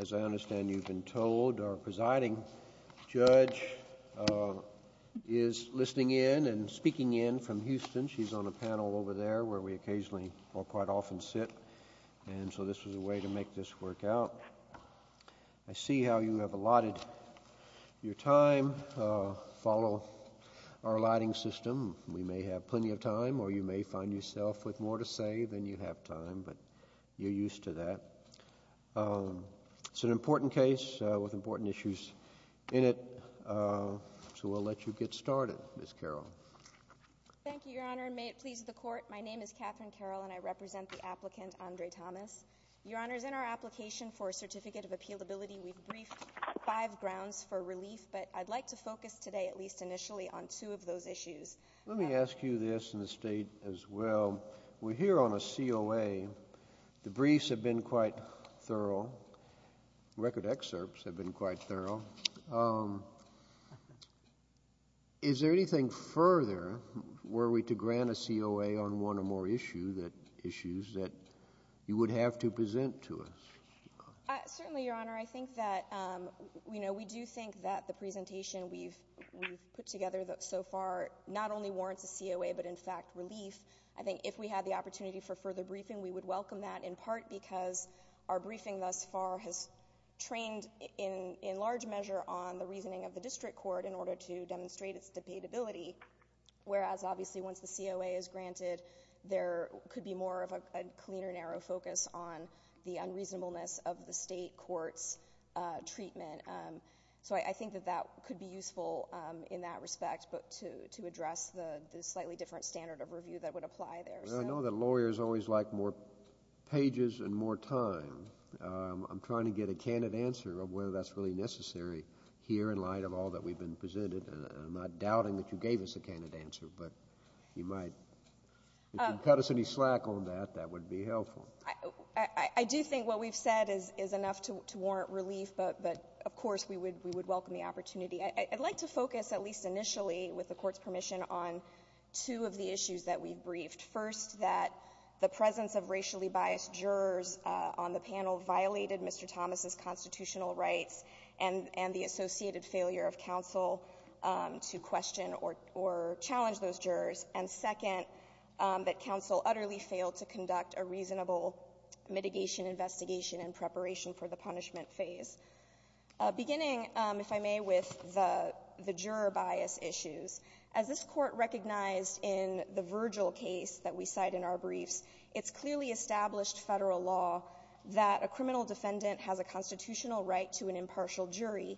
As I understand, you've been told our presiding judge is listening in and speaking in from Houston. She's on a panel over there where we occasionally or quite often sit, and so this was a way to make this work out. I see how you have allotted your time. Follow our allotting system. We may have plenty of time, or you may find yourself with more to say than you have time, but you're used to that. It's an important case with important issues in it, so we'll let you get started, Ms. Carroll. Thank you, Your Honor, and may it please the Court, my name is Catherine Carroll and I represent the applicant, Andre Thomas. Your Honor, in our application for a Certificate of Appealability, we've briefed five grounds for relief, but I'd like to focus today, at least initially, on two of those issues. Let me ask you this in the State as well. We're here on a COA, the briefs have been quite thorough, record excerpts have been quite thorough. Is there anything further, were we to grant a COA on one or more issues that you would have to present to us? Certainly, Your Honor, I think that, you know, we do think that the presentation we've put together so far not only warrants a COA, but in fact, relief. I think if we had the opportunity for further briefing, we would welcome that, in part because our briefing thus far has trained, in large measure, on the reasoning of the District Court in order to demonstrate its debatability, whereas, obviously, once the COA is granted, there could be more of a cleaner, narrow focus on the unreasonableness of the State Court's treatment. So I think that that could be useful in that respect, but to address the slightly different standard of review that would apply there. I know that lawyers always like more pages and more time. I'm trying to get a candid answer of whether that's really necessary here in light of all that we've been presented, and I'm not doubting that you gave us a candid answer, but you might. If you can cut us any slack on that, that would be helpful. I do think what we've said is enough to warrant relief, but, of course, we would welcome the opportunity. I'd like to focus, at least initially, with the Court's permission, on two of the issues that we've briefed. First, that the presence of racially biased jurors on the panel violated Mr. Thomas' constitutional rights and the associated failure of counsel to question or challenge those jurors. And second, that counsel utterly failed to conduct a reasonable mitigation investigation in preparation for the punishment phase. Beginning, if I may, with the juror bias issues, as this Court recognized in the Virgil case that we cite in our briefs, it's clearly established federal law that a criminal defendant has a constitutional right to an impartial jury,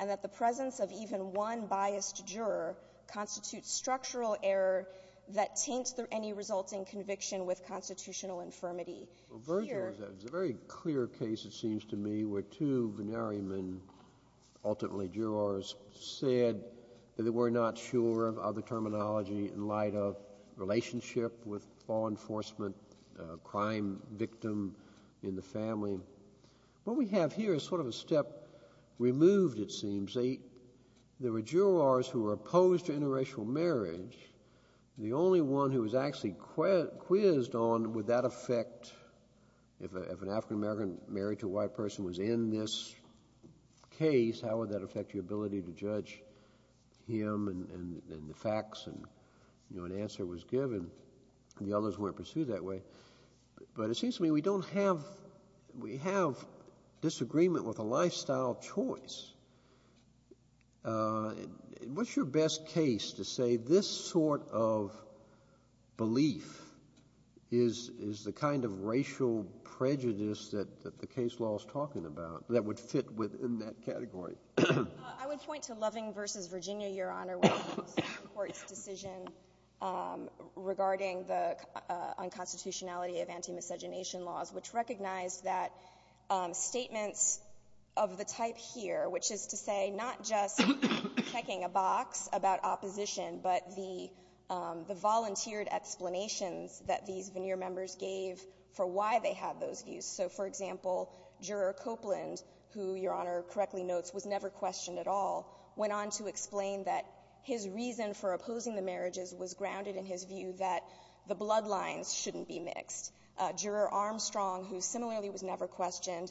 and that the presence of even one biased juror constitutes structural error that taints any resulting conviction with constitutional infirmity. Here — Well, Virgil is a very clear case, it seems to me, where two venerymen, ultimately jurors, said that they were not sure of the terminology in light of relationship with law enforcement, crime victim in the family. What we have here is sort of a step removed, it seems. There was a — there were jurors who were opposed to interracial marriage. The only one who was actually quizzed on would that affect — if an African-American married to a white person was in this case, how would that affect your ability to judge him and the facts, and, you know, an answer was given, and the others weren't pursued that way. But it seems to me we don't have — we have disagreement with a lifestyle choice. What's your best case to say this sort of belief is the kind of racial prejudice that the case law is talking about that would fit within that category? I would point to Loving v. Virginia, Your Honor, where the Supreme Court's decision regarding the unconstitutionality of anti-miscegenation laws, which recognized that statements of the type here, which is to say not just checking a box about opposition, but the volunteered explanations that these veneer members gave for why they had those views. So, for example, Juror Copeland, who Your Honor correctly notes was never questioned at all, went on to explain that his reason for opposing the marriages was grounded in his view that the bloodlines shouldn't be mixed. Juror Armstrong, who similarly was never questioned,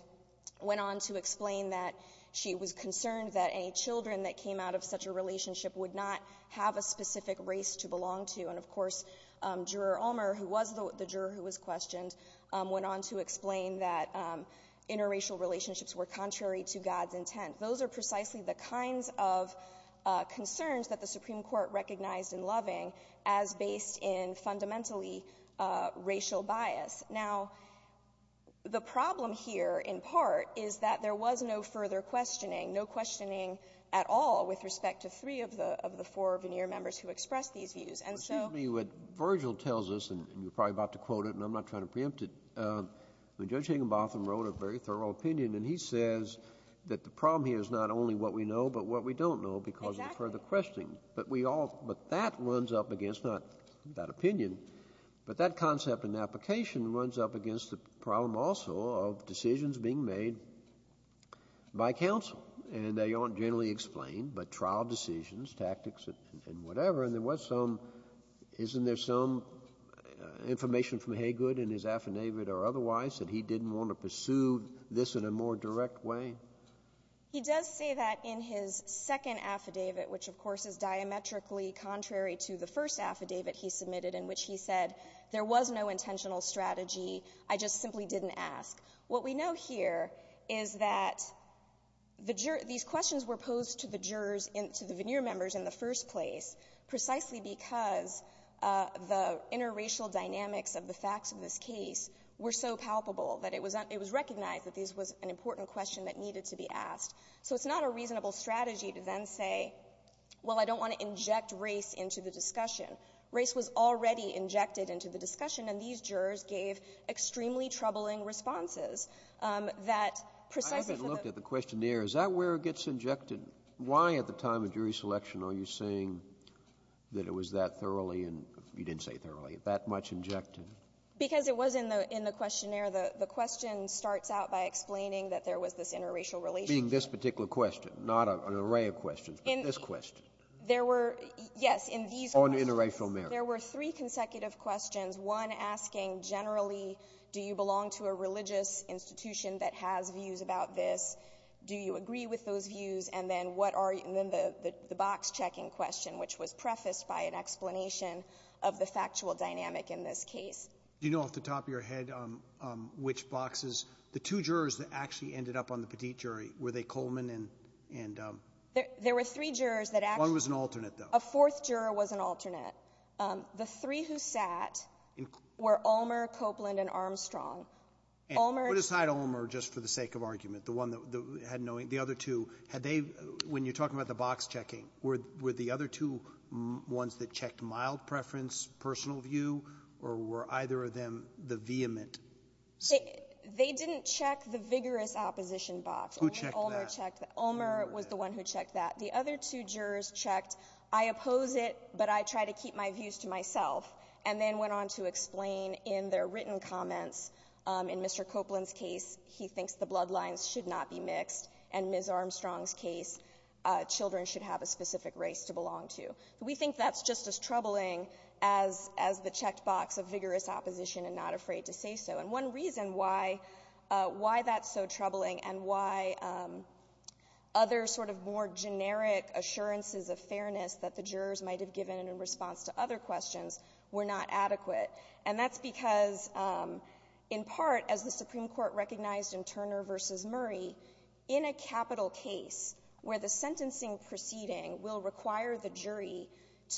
went on to explain that she was concerned that any children that came out of such a relationship would not have a specific race to belong to, and, of course, Juror Ulmer, who was the juror who was questioned, went on to explain that interracial relationships were contrary to God's intent. Those are precisely the kinds of concerns that the Supreme Court recognized in Loving as based in fundamentally racial bias. Now, the problem here, in part, is that there was no further questioning, no questioning at all with respect to three of the four veneer members who expressed these views. And so — Kennedy, what Virgil tells us, and you're probably about to quote it, and I'm not trying to preempt it, when Judge Higginbotham wrote a very thorough opinion, and he says that the problem here is not only what we know, but what we don't know because of the further questioning. But we all — but that runs up against not that opinion, but that concept in the application runs up against the problem also of decisions being made by counsel. And they aren't generally explained, but trial decisions, tactics, and whatever. And there was some — isn't there some information from Haygood in his affidavit or otherwise that he didn't want to pursue this in a more direct way? He does say that in his second affidavit, which of course is diametrically contrary to the first affidavit he submitted in which he said there was no intentional strategy, I just simply didn't ask. What we know here is that the jur — these questions were posed to the jurors in — to the veneer members in the first place precisely because the interracial dynamics of the facts of this case were so palpable that it was — it was recognized that this was an important question that needed to be asked. So it's not a reasonable strategy to then say, well, I don't want to inject race into the discussion. Race was already injected into the discussion, and these jurors gave extremely troubling responses that precisely for the — I haven't looked at the questionnaire. Is that where it gets injected? Why at the time of jury selection are you saying that it was that thoroughly and — you didn't say thoroughly — that much injected? Because it was in the — in the questionnaire. The question starts out by explaining that there was this interracial relationship. Being this particular question, not an array of questions, but this question. There were — yes, in these questions. On interracial merit. There were three consecutive questions, one asking generally, do you belong to a religious institution that has views about this? Do you agree with those views? And then what are — and then the box-checking question, which was prefaced by an explanation of the factual dynamic in this case. Do you know off the top of your head which boxes — the two jurors that actually ended up on the Petit jury, were they Coleman and — There were three jurors that actually — One was an alternate, though. A fourth juror was an alternate. The three who sat were Ulmer, Copeland, and Armstrong. Ulmer — And put aside Ulmer just for the sake of argument. The one that had no — the other two, had they — when you're talking about the box-checking, were the other two ones that checked mild preference, personal view, or were either of them the vehement — They didn't check the vigorous opposition box. Who checked that? Ulmer checked — Ulmer was the one who checked that. The other two jurors checked, I oppose it, but I try to keep my views to myself, and then went on to explain in their written comments, in Mr. Copeland's case, he thinks the We think that's just as troubling as — as the checked box of vigorous opposition and not afraid to say so. And one reason why — why that's so troubling and why other sort of more generic assurances of fairness that the jurors might have given in response to other questions were not adequate, and that's because, in part, as the Supreme Court recognized in Turner v. Murray, in a capital case where the sentencing proceeding will require the jury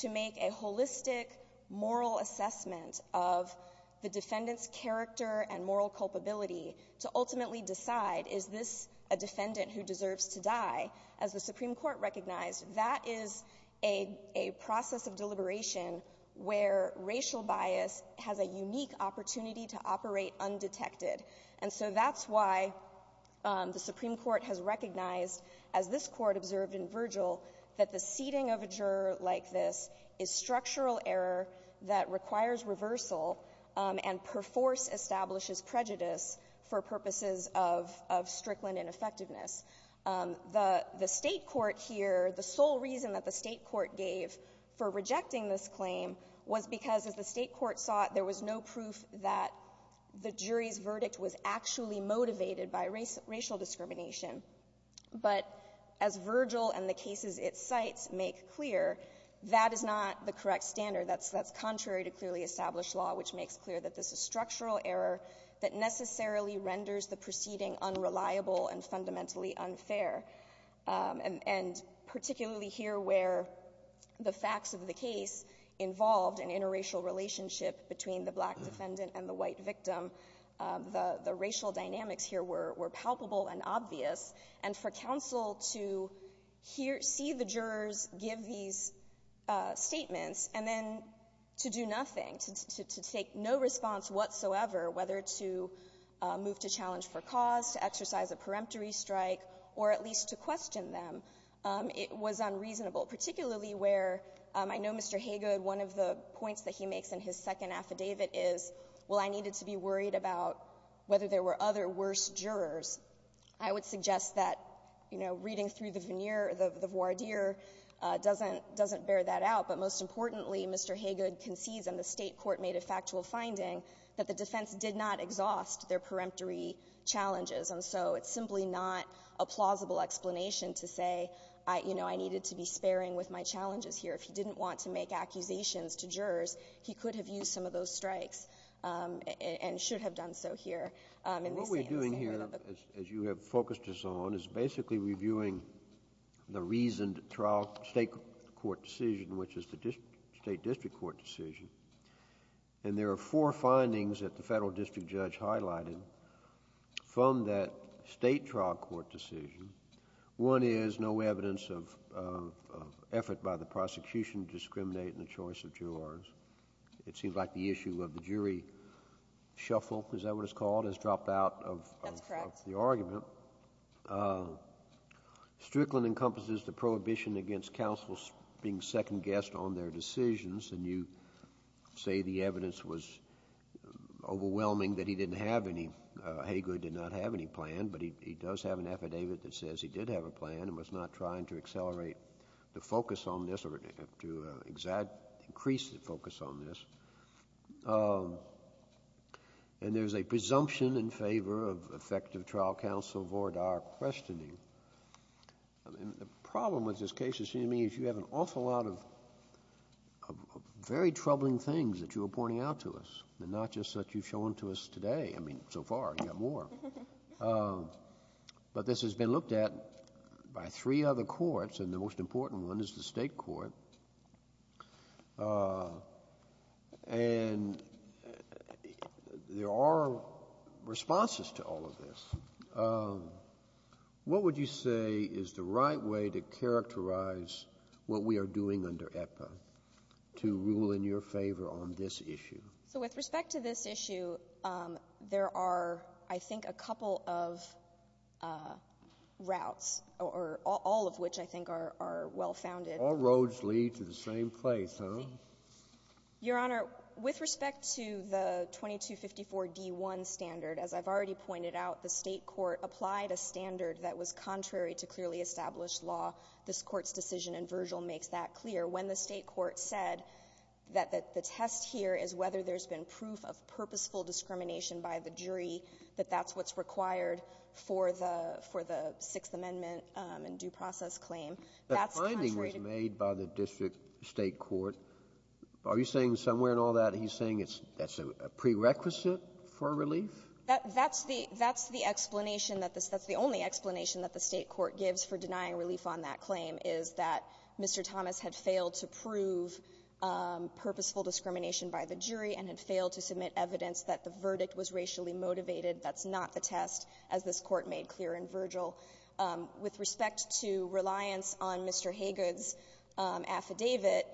to make a holistic moral assessment of the defendant's character and moral culpability to ultimately decide, is this a defendant who deserves to die? As the Supreme Court recognized, that is a process of deliberation where racial bias has a unique opportunity to operate undetected. And so that's why the Supreme Court has recognized, as this Court observed in Virgil, that the seating of a juror like this is structural error that requires reversal and perforce establishes prejudice for purposes of — of Strickland ineffectiveness. The — the State court here, the sole reason that the State court gave for rejecting this claim was because, as the State court saw it, there was no proof that the jury's verdict was actually motivated by racial discrimination. But as Virgil and the cases it cites make clear, that is not the correct standard. That's — that's contrary to clearly established law, which makes clear that this is structural error that necessarily renders the proceeding unreliable and fundamentally unfair. And — and particularly here where the facts of the case involved an interracial relationship between the black defendant and the white victim, the — the racial dynamics here were — were palpable and obvious. And for counsel to hear — see the jurors give these statements and then to do nothing, to take no response whatsoever, whether to move to challenge for cause, to exercise a peremptory strike, or at least to question them, it was unreasonable. Particularly where — I know Mr. Haygood, one of the points that he makes in his second affidavit is, well, I needed to be worried about whether there were other worse jurors. I would suggest that, you know, reading through the veneer — the voir dire doesn't — doesn't bear that out. But most importantly, Mr. Haygood concedes, and the State court made a factual finding, that the defense did not exhaust their peremptory challenges. And so it's simply not a plausible explanation to say, you know, I needed to be sparing with my challenges here. If he didn't want to make accusations to jurors, he could have used some of those strikes and should have done so here. And they say in this case — What we're doing here, as you have focused us on, is basically reviewing the reasoned trial State court decision, which is the State district court decision. And there are four findings that the Federal district judge highlighted from that State trial court decision. One is no evidence of effort by the prosecution to discriminate in the choice of jurors. It seems like the issue of the jury shuffle, is that what it's called, has dropped out of the argument. That's correct. Strickland encompasses the prohibition against counsels being second-guessed on their decisions, and you say the evidence was overwhelming, that he didn't have any — Hagood did not have any plan, but he does have an affidavit that says he did have a plan and was not trying to accelerate the focus on this or to increase the focus on this. And there's a presumption in favor of effective trial counsel Vordaer questioning. I mean, the problem with this case, it seems to me, is you have an awful lot of very troubling things that you are pointing out to us, and not just that you've shown to us today. I mean, so far, you've got more. But this has been looked at by three other courts, and the most important one is the State court. And there are responses to all of this. And what would you say is the right way to characterize what we are doing under EPA to rule in your favor on this issue? So with respect to this issue, there are, I think, a couple of routes, or all of which I think are well-founded. All roads lead to the same place, huh? Your Honor, with respect to the 2254-D1 standard, as I've already pointed out, the State court applied a standard that was contrary to clearly established law. This Court's decision in Virgil makes that clear. When the State court said that the test here is whether there's been proof of purposeful discrimination by the jury, that that's what's required for the Sixth Amendment and due process claim, that's contrary to the State court. The finding was made by the district State court. Are you saying somewhere in all that he's saying it's a prerequisite for relief? That's the explanation that the State court gives for denying relief on that claim is that Mr. Thomas had failed to prove purposeful discrimination by the jury and had failed to submit evidence that the verdict was racially motivated. That's not the test, as this Court made clear in Virgil. With respect to reliance on Mr. Haygood's affidavit,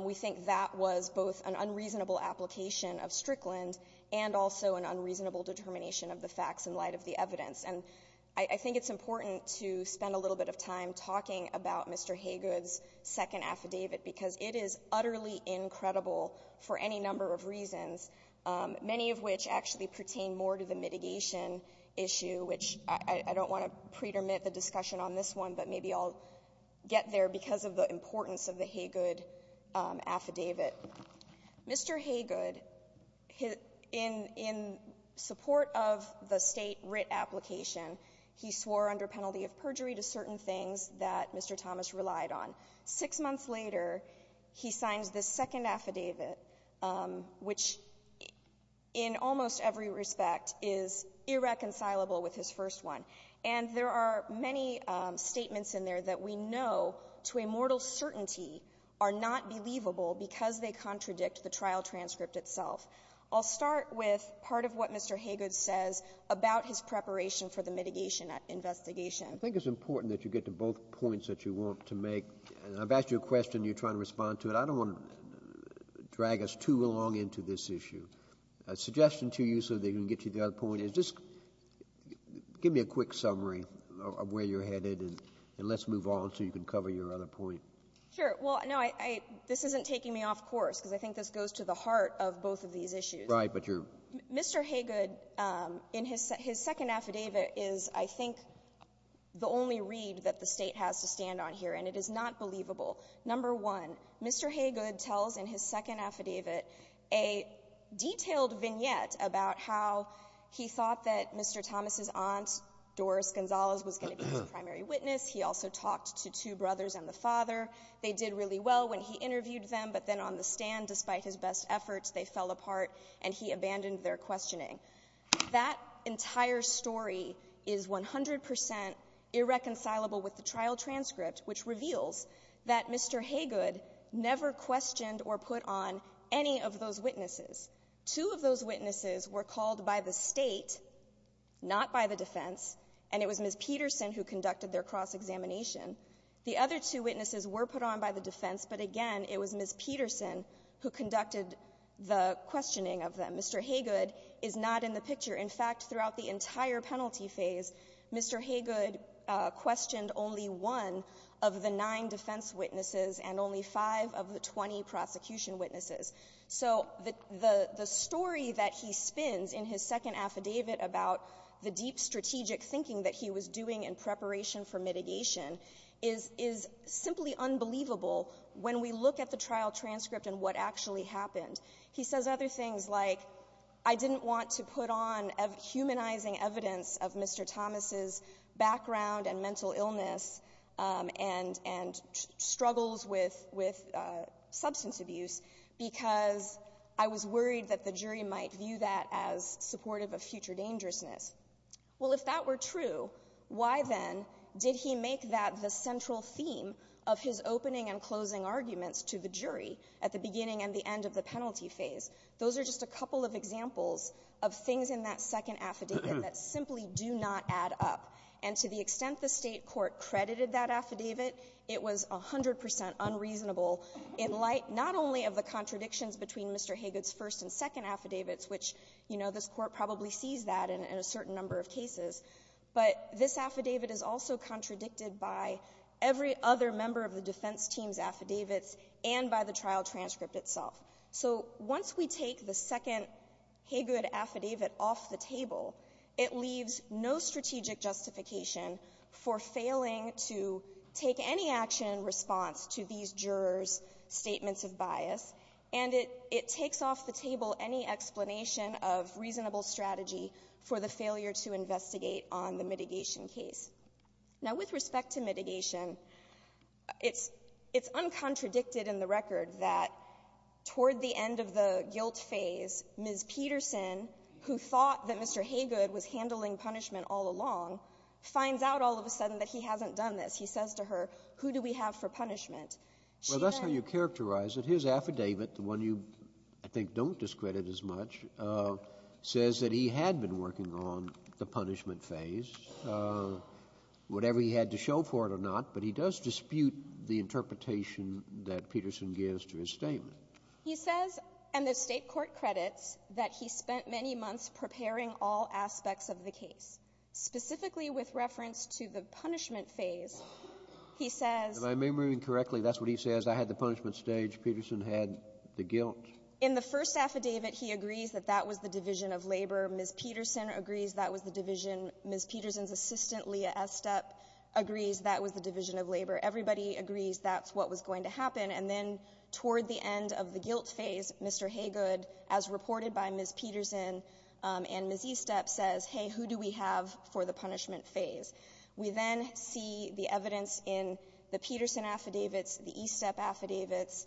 we think that was both an unreasonable application of Strickland and also an unreasonable determination of the facts in light of the evidence. And I think it's important to spend a little bit of time talking about Mr. Haygood's second affidavit, because it is utterly incredible for any number of reasons, many of which actually pertain more to the mitigation issue, which I don't want to pretermine the discussion on this one, but maybe I'll get there because of the importance of the Haygood affidavit. Mr. Haygood, in support of the State writ application, he swore under penalty of perjury to certain things that Mr. Thomas relied on. Six months later, he signs this second affidavit, which in almost every respect is irreconcilable with his first one. And there are many statements in there that we know to a mortal certainty are not believable because they contradict the trial transcript itself. I'll start with part of what Mr. Haygood says about his preparation for the mitigation investigation. I think it's important that you get to both points that you want to make. And I've asked you a question and you're trying to respond to it. I don't want to drag us too long into this issue. A suggestion to you so that you can get to the other point is just give me a quick summary of where you're headed and let's move on so you can cover your other point. Sure. Well, no, this isn't taking me off course because I think this goes to the heart of both of these issues. Right, but you're — Mr. Haygood, his second affidavit is, I think, the only read that the State has to stand on here, and it is not believable. Number one, Mr. Haygood tells in his second affidavit a detailed vignette about how he thought that Mr. Thomas' aunt, Doris Gonzalez, was going to be his primary witness. He also talked to two brothers and the father. They did really well when he interviewed them, but then on the stand, despite his best efforts, they fell apart and he abandoned their questioning. That entire story is 100 percent irreconcilable with the trial transcript, which reveals that Mr. Haygood never questioned or put on any of those witnesses. Two of those witnesses were called by the State, not by the defense, and it was Ms. Peterson who conducted their cross-examination. The other two witnesses were put on by the defense, but again, it was Ms. Peterson who conducted the questioning of them. Mr. Haygood is not in the picture. In fact, throughout the entire penalty phase, Mr. Haygood questioned only one of the nine defense witnesses and only five of the 20 prosecution witnesses. So the story that he spins in his second affidavit about the deep strategic thinking that he was doing in preparation for mitigation is simply unbelievable when we look at the trial transcript and what actually happened. He says other things like, I didn't want to put on humanizing evidence of Mr. Thomas's background and mental illness and struggles with substance abuse because I was worried that the jury might view that as supportive of future dangerousness. Well, if that were true, why then did he make that the central theme of his opening and closing arguments to the jury at the beginning and the end of the penalty phase? Those are just a couple of examples of things in that second affidavit that simply do not add up. And to the extent the State court credited that affidavit, it was 100 percent unreasonable in light not only of the contradictions between Mr. Haygood's first and second affidavits, which, you know, this Court probably sees that in a certain number of cases, but this affidavit is also contradicted by every other member of the defense team's affidavits and by the trial transcript itself. So once we take the second Haygood affidavit off the table, it leaves no strategic justification for failing to take any action in response to these jurors' statements of bias, and it takes off the table any explanation of reasonable strategy for the failure to investigate on the mitigation case. Now, with respect to mitigation, it's uncontradicted in the record that toward the end of the guilt phase, Ms. Peterson, who thought that Mr. Haygood was handling punishment all along, finds out all of a sudden that he hasn't done this. He says to her, who do we have for punishment? She then — Well, that's how you characterize it. His affidavit, the one you, I think, don't discredit as much, says that he had been working on the punishment phase, whatever he had to show for it or not, but he does dispute the interpretation that Peterson gives to his statement. He says, and the State court credits, that he spent many months preparing all aspects of the case. Specifically with reference to the punishment phase, he says — If I'm remembering correctly, that's what he says. I had the punishment stage. Peterson had the guilt. In the first affidavit, he agrees that that was the division of labor. Ms. Peterson agrees that was the division. Ms. Peterson's assistant, Leah Estep, agrees that was the division of labor. Everybody agrees that's what was going to happen. And then toward the end of the guilt phase, Mr. Haygood, as reported by Ms. Peterson and Ms. Estep, says, hey, who do we have for the punishment phase? We then see the evidence in the Peterson affidavits, the Estep affidavits,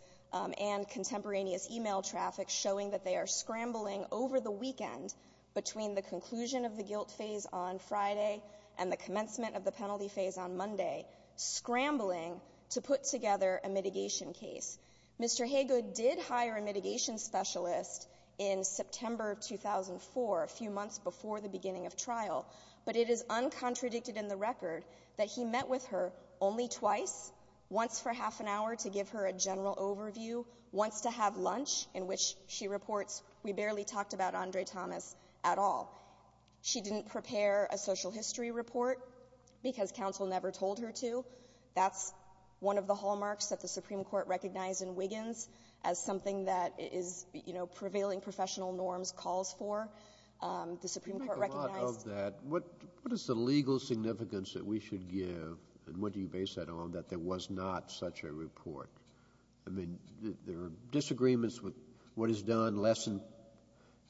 and contemporaneous email traffic showing that they are scrambling over the weekend between the conclusion of the guilt phase on Friday and the commencement of the penalty phase on Monday, scrambling to put together a mitigation case. Mr. Haygood did hire a mitigation specialist in September of 2004, a few months before the beginning of trial. But it is uncontradicted in the record that he met with her only twice, once for half an hour to give her a general overview, once to have lunch, in which she reports, we barely talked about Andre Thomas at all. She didn't prepare a social history report because counsel never told her to. That's one of the hallmarks that the Supreme Court recognized in Wiggins as something that is prevailing professional norms calls for. The Supreme Court recognized... What is the legal significance that we should give, and what do you base that on, that there was not such a report? I mean, there are disagreements with what is done less than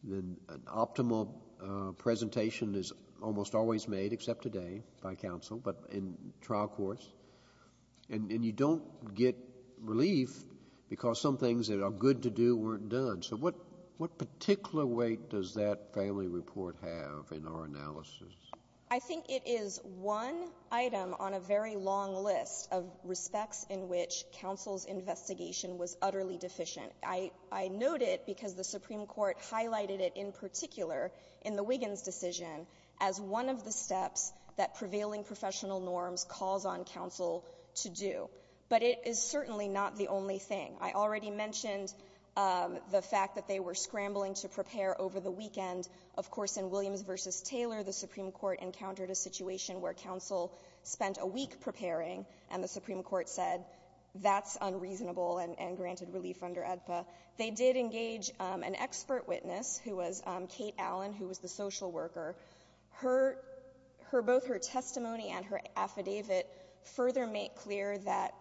an optimal presentation is almost always made, except today by counsel, but in trial courts. And you don't get relief because some things that are good to do weren't done. So what particular weight does that family report have in our analysis? I think it is one item on a very long list of respects in which counsel's investigation was utterly deficient. I note it because the Supreme Court highlighted it in particular in the Wiggins decision as one of the steps that prevailing professional norms calls on counsel to do. But it is certainly not the only thing. I already mentioned the fact that they were scrambling to prepare over the weekend. Of course, in Williams v. Taylor, the Supreme Court encountered a situation where counsel spent a week preparing, and the Supreme Court said, that's unreasonable and granted relief under AEDPA. They did engage an expert witness who was Kate Allen, who was the social worker. Both her testimony and her affidavit further make clear that,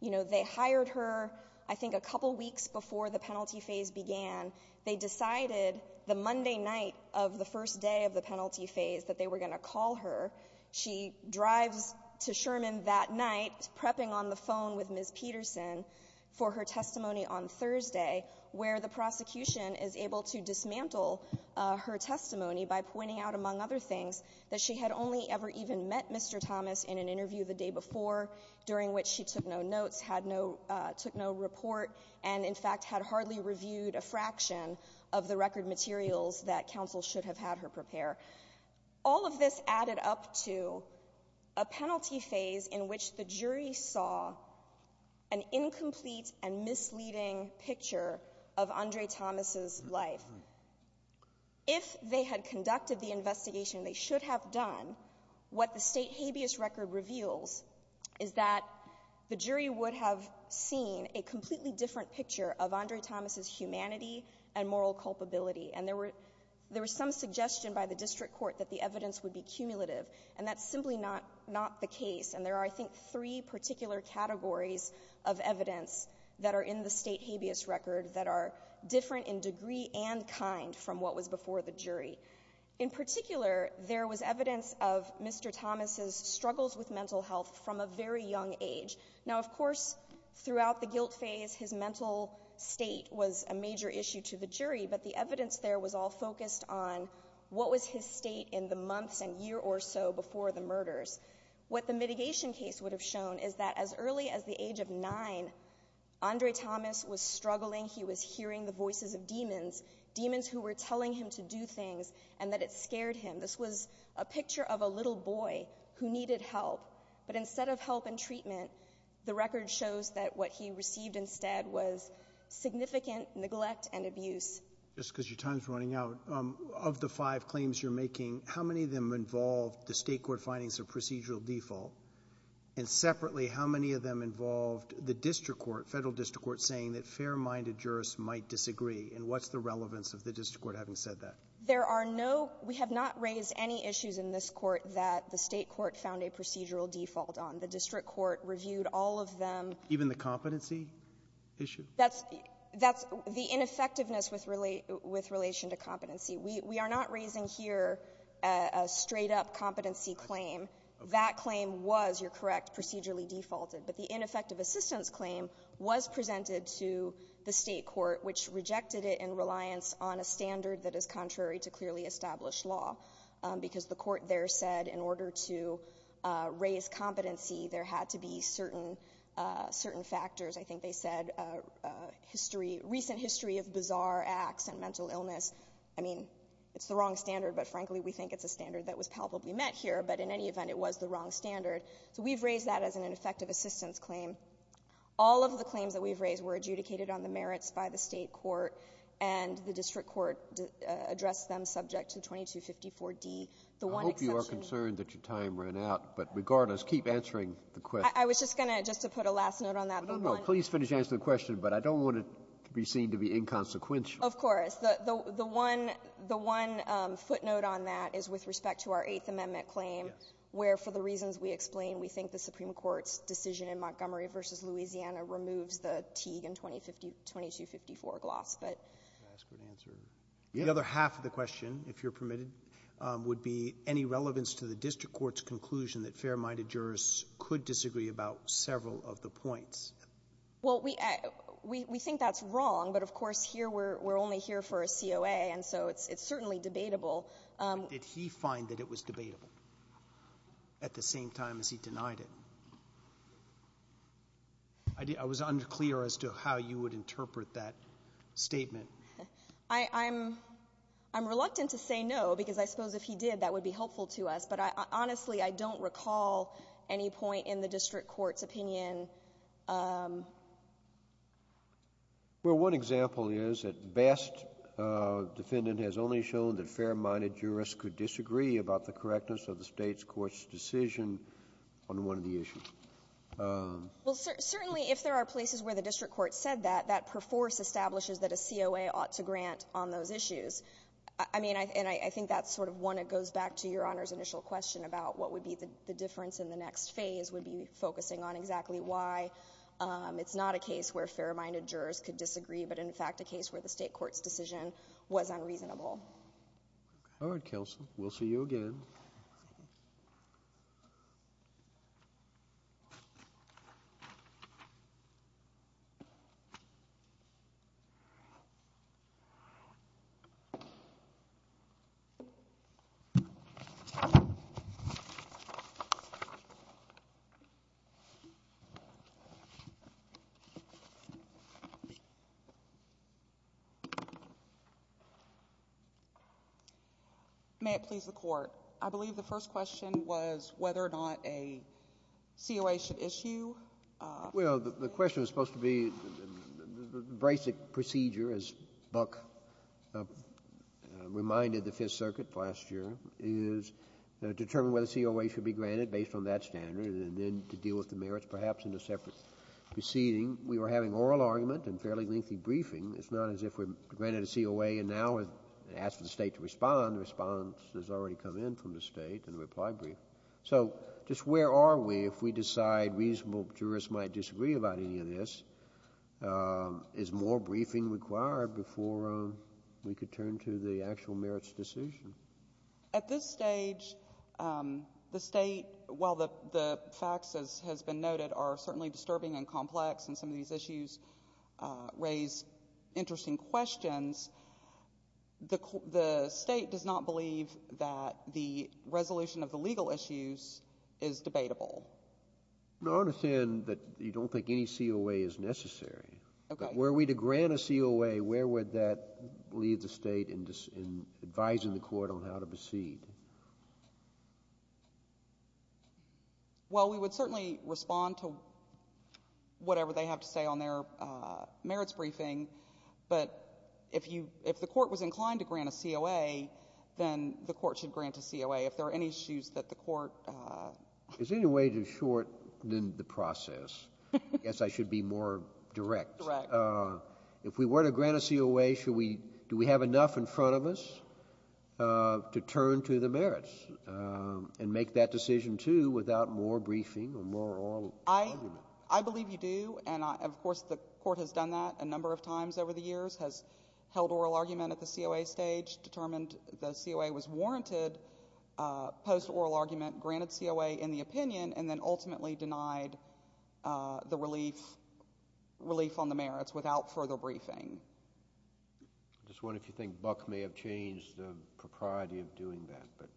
you know, they hired her I think a couple weeks before the penalty phase began. They decided the Monday night of the first day of the penalty phase that they were going to call her. She drives to Sherman that night, prepping on the phone with Ms. Peterson for her testimony on Thursday, where the prosecution is able to dismantle her testimony by pointing out, among other things, that she had only ever even met Mr. Thomas in an interview the day before, during which she took no notes, took no report, and in fact had hardly reviewed a fraction of the record materials that counsel should have had her prepare. All of this added up to a penalty phase in which the jury saw an incomplete and misleading picture of Andre Thomas' life. If they had conducted the investigation they should have done, what the state habeas record reveals is that the jury would have seen a completely different picture of Andre Thomas' humanity and moral culpability, and there was some suggestion by the district court that the evidence would be cumulative, and that's simply not the case. And there are, I think, three particular categories of evidence that are in the state habeas record that are different in degree and kind from what was before the jury. In particular, there was evidence of Mr. Thomas' struggles with mental health from a very young age. Now, of course, throughout the guilt phase his mental state was a major issue to the jury, but the evidence there was all focused on what was his state in the months and year or so before the murders. What the mitigation case would have shown is that as early as the age of nine, Andre Thomas was struggling, he was hearing the voices of demons, demons who were telling him to do things and that it scared him. This was a picture of a little boy who needed help, but instead of help and treatment, the record shows that what he received instead was significant neglect and abuse. Just because your time is running out, of the five claims you're making, how many of them involved the state court findings of procedural default? And separately, how many of them involved the district court, federal district court, saying that fair-minded jurists might disagree? And what's the relevance of the district court having said that? There are no — we have not raised any issues in this Court that the state court found a procedural default on. The district court reviewed all of them. Even the competency issue? That's — that's the ineffectiveness with relation to competency. We are not raising here a straight-up competency claim. That claim was, you're correct, procedurally defaulted. But the ineffective assistance claim was presented to the state court, which rejected it in reliance on a standard that is contrary to clearly established law, because the court there said in order to raise competency, there had to be certain factors. I think they said history — recent history of bizarre acts and mental illness. I mean, it's the wrong standard, but, frankly, we think it's a standard that was palpably met here. But in any event, it was the wrong standard. So we've raised that as an ineffective assistance claim. All of the claims that we've raised were adjudicated on the merits by the state court, and the district court addressed them subject to 2254D. The one exception — I hope you are concerned that your time ran out. But regardless, keep answering the question. I was just going to — just to put a last note on that. Please finish answering the question, but I don't want it to be seen to be inconsequential. Of course. The one — the one footnote on that is with respect to our Eighth Amendment claim, where for the reasons we explained, we think the Supreme Court's decision in Montgomery v. Louisiana removes the Teague and 2254 gloss, but — Can I ask for an answer? The other half of the question, if you're permitted, would be any relevance to the district court's conclusion that fair-minded jurists could disagree about several of the points. Well, we — we think that's wrong, but, of course, here we're only here for a COA, and so it's certainly debatable. But did he find that it was debatable at the same time as he denied it? I was unclear as to how you would interpret that statement. I'm — I'm reluctant to say no, because I suppose if he did, that would be helpful to us. But, honestly, I don't recall any point in the district court's opinion. Well, one example is that BAST defendant has only shown that fair-minded jurists could disagree about the correctness of the State's court's decision on one of the issues. Well, certainly, if there are places where the district court said that, that perforce establishes that a COA ought to grant on those issues. I mean, and I think that's sort of one that goes back to Your Honor's initial question about what would be the difference in the next phase would be focusing on exactly why. It's not a case where fair-minded jurors could disagree, but, in fact, a case where the State court's decision was unreasonable. All right, Kelsey. We'll see you again. Thank you. May it please the Court. I believe the first question was whether or not a COA should issue. Well, the question was supposed to be the basic procedure, as Buck reminded the Fifth Amendment, whether a COA should be granted based on that standard and then to deal with the merits perhaps in a separate proceeding. We were having oral argument and fairly lengthy briefing. It's not as if we granted a COA and now asked the State to respond. The response has already come in from the State in the reply brief. So just where are we if we decide reasonable jurists might disagree about any of this? Is more briefing required before we could turn to the actual merits decision? At this stage, the State, while the facts, as has been noted, are certainly disturbing and complex and some of these issues raise interesting questions, the State does not believe that the resolution of the legal issues is debatable. I understand that you don't think any COA is necessary. Okay. Where are we to grant a COA? Where would that leave the State in advising the Court on how to proceed? Well, we would certainly respond to whatever they have to say on their merits briefing, but if the Court was inclined to grant a COA, then the Court should grant a COA. If there are any issues that the Court ---- Is there any way to shorten the process? I guess I should be more direct. If we were to grant a COA, should we ---- do we have enough in front of us to turn to the merits and make that decision, too, without more briefing or more oral argument? I believe you do, and, of course, the Court has done that a number of times over the years, has held oral argument at the COA stage, determined the COA was warranted post-oral argument, granted COA in the opinion, and then ultimately denied the relief on the merits without further briefing. I just wonder if you think Buck may have changed the propriety of doing that.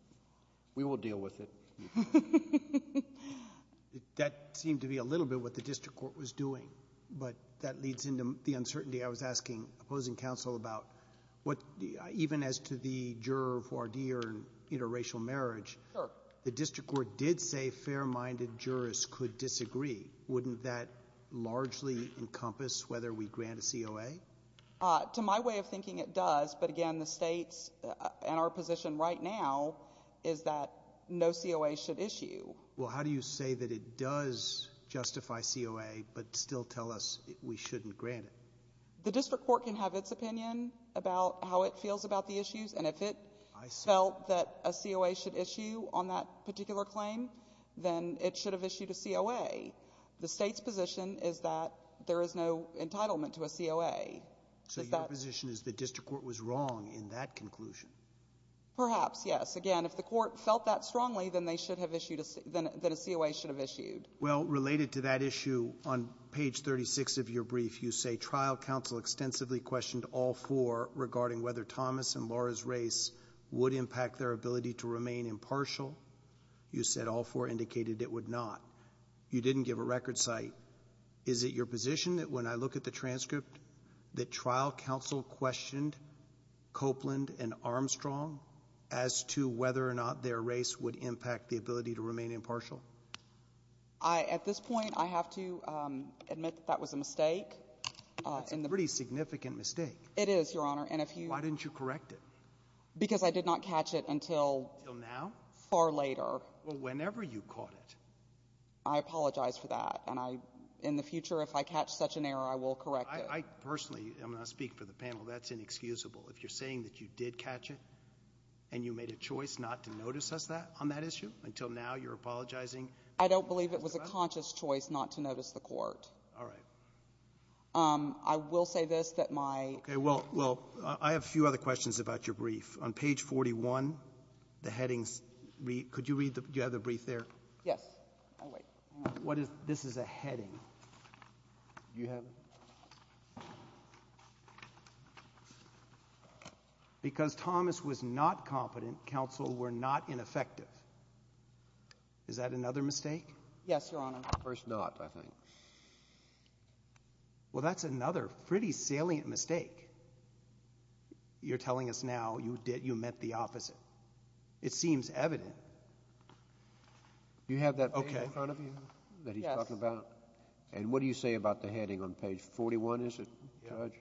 We will deal with it. That seemed to be a little bit what the District Court was doing, but that leads into the uncertainty I was asking opposing counsel about, even as to the juror, interracial marriage. Sure. The District Court did say fair-minded jurors could disagree. Wouldn't that largely encompass whether we grant a COA? To my way of thinking, it does. But, again, the State's ---- and our position right now is that no COA should issue. Well, how do you say that it does justify COA but still tell us we shouldn't grant it? The District Court can have its opinion about how it feels about the issues, and if it felt that a COA should issue on that particular claim, then it should have issued a COA. The State's position is that there is no entitlement to a COA. So your position is the District Court was wrong in that conclusion? Perhaps, yes. Again, if the Court felt that strongly, then they should have issued a COA. Well, related to that issue, on page 36 of your brief, you say, trial counsel extensively questioned all four regarding whether Thomas and Laura's race would impact their ability to remain impartial. You said all four indicated it would not. You didn't give a record cite. Is it your position that when I look at the transcript that trial counsel questioned Copeland and Armstrong as to whether or not their race would impact the ability to remain impartial? At this point, I have to admit that that was a mistake. That's a pretty significant mistake. It is, Your Honor, and if you — Why didn't you correct it? Because I did not catch it until — Until now? Far later. Well, whenever you caught it. I apologize for that, and I — in the future, if I catch such an error, I will correct it. I personally — I'm going to speak for the panel. That's inexcusable. If you're saying that you did catch it and you made a choice not to notice us that on that issue, until now you're apologizing? I don't believe it was a conscious choice not to notice the court. All right. I will say this, that my — Okay. Well, I have a few other questions about your brief. On page 41, the headings — could you read the — do you have the brief there? Yes. I'll wait. What is — this is a heading. Do you have it? Okay. Because Thomas was not competent, counsel were not ineffective. Is that another mistake? Yes, Your Honor. First not, I think. Well, that's another pretty salient mistake. You're telling us now you meant the opposite. It seems evident. Do you have that page in front of you that he's talking about? Yes. All right. And what do you say about the heading on page 41, is it, Judge?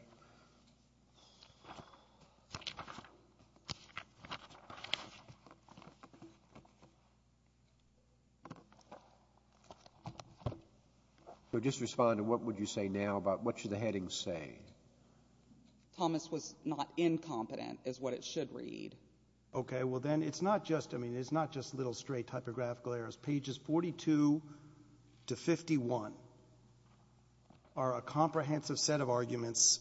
So just respond to what would you say now about what should the headings say. Thomas was not incompetent is what it should read. Okay. Well, then it's not just — I mean, it's not just little straight typographical errors. Pages 42 to 51 are a comprehensive set of arguments,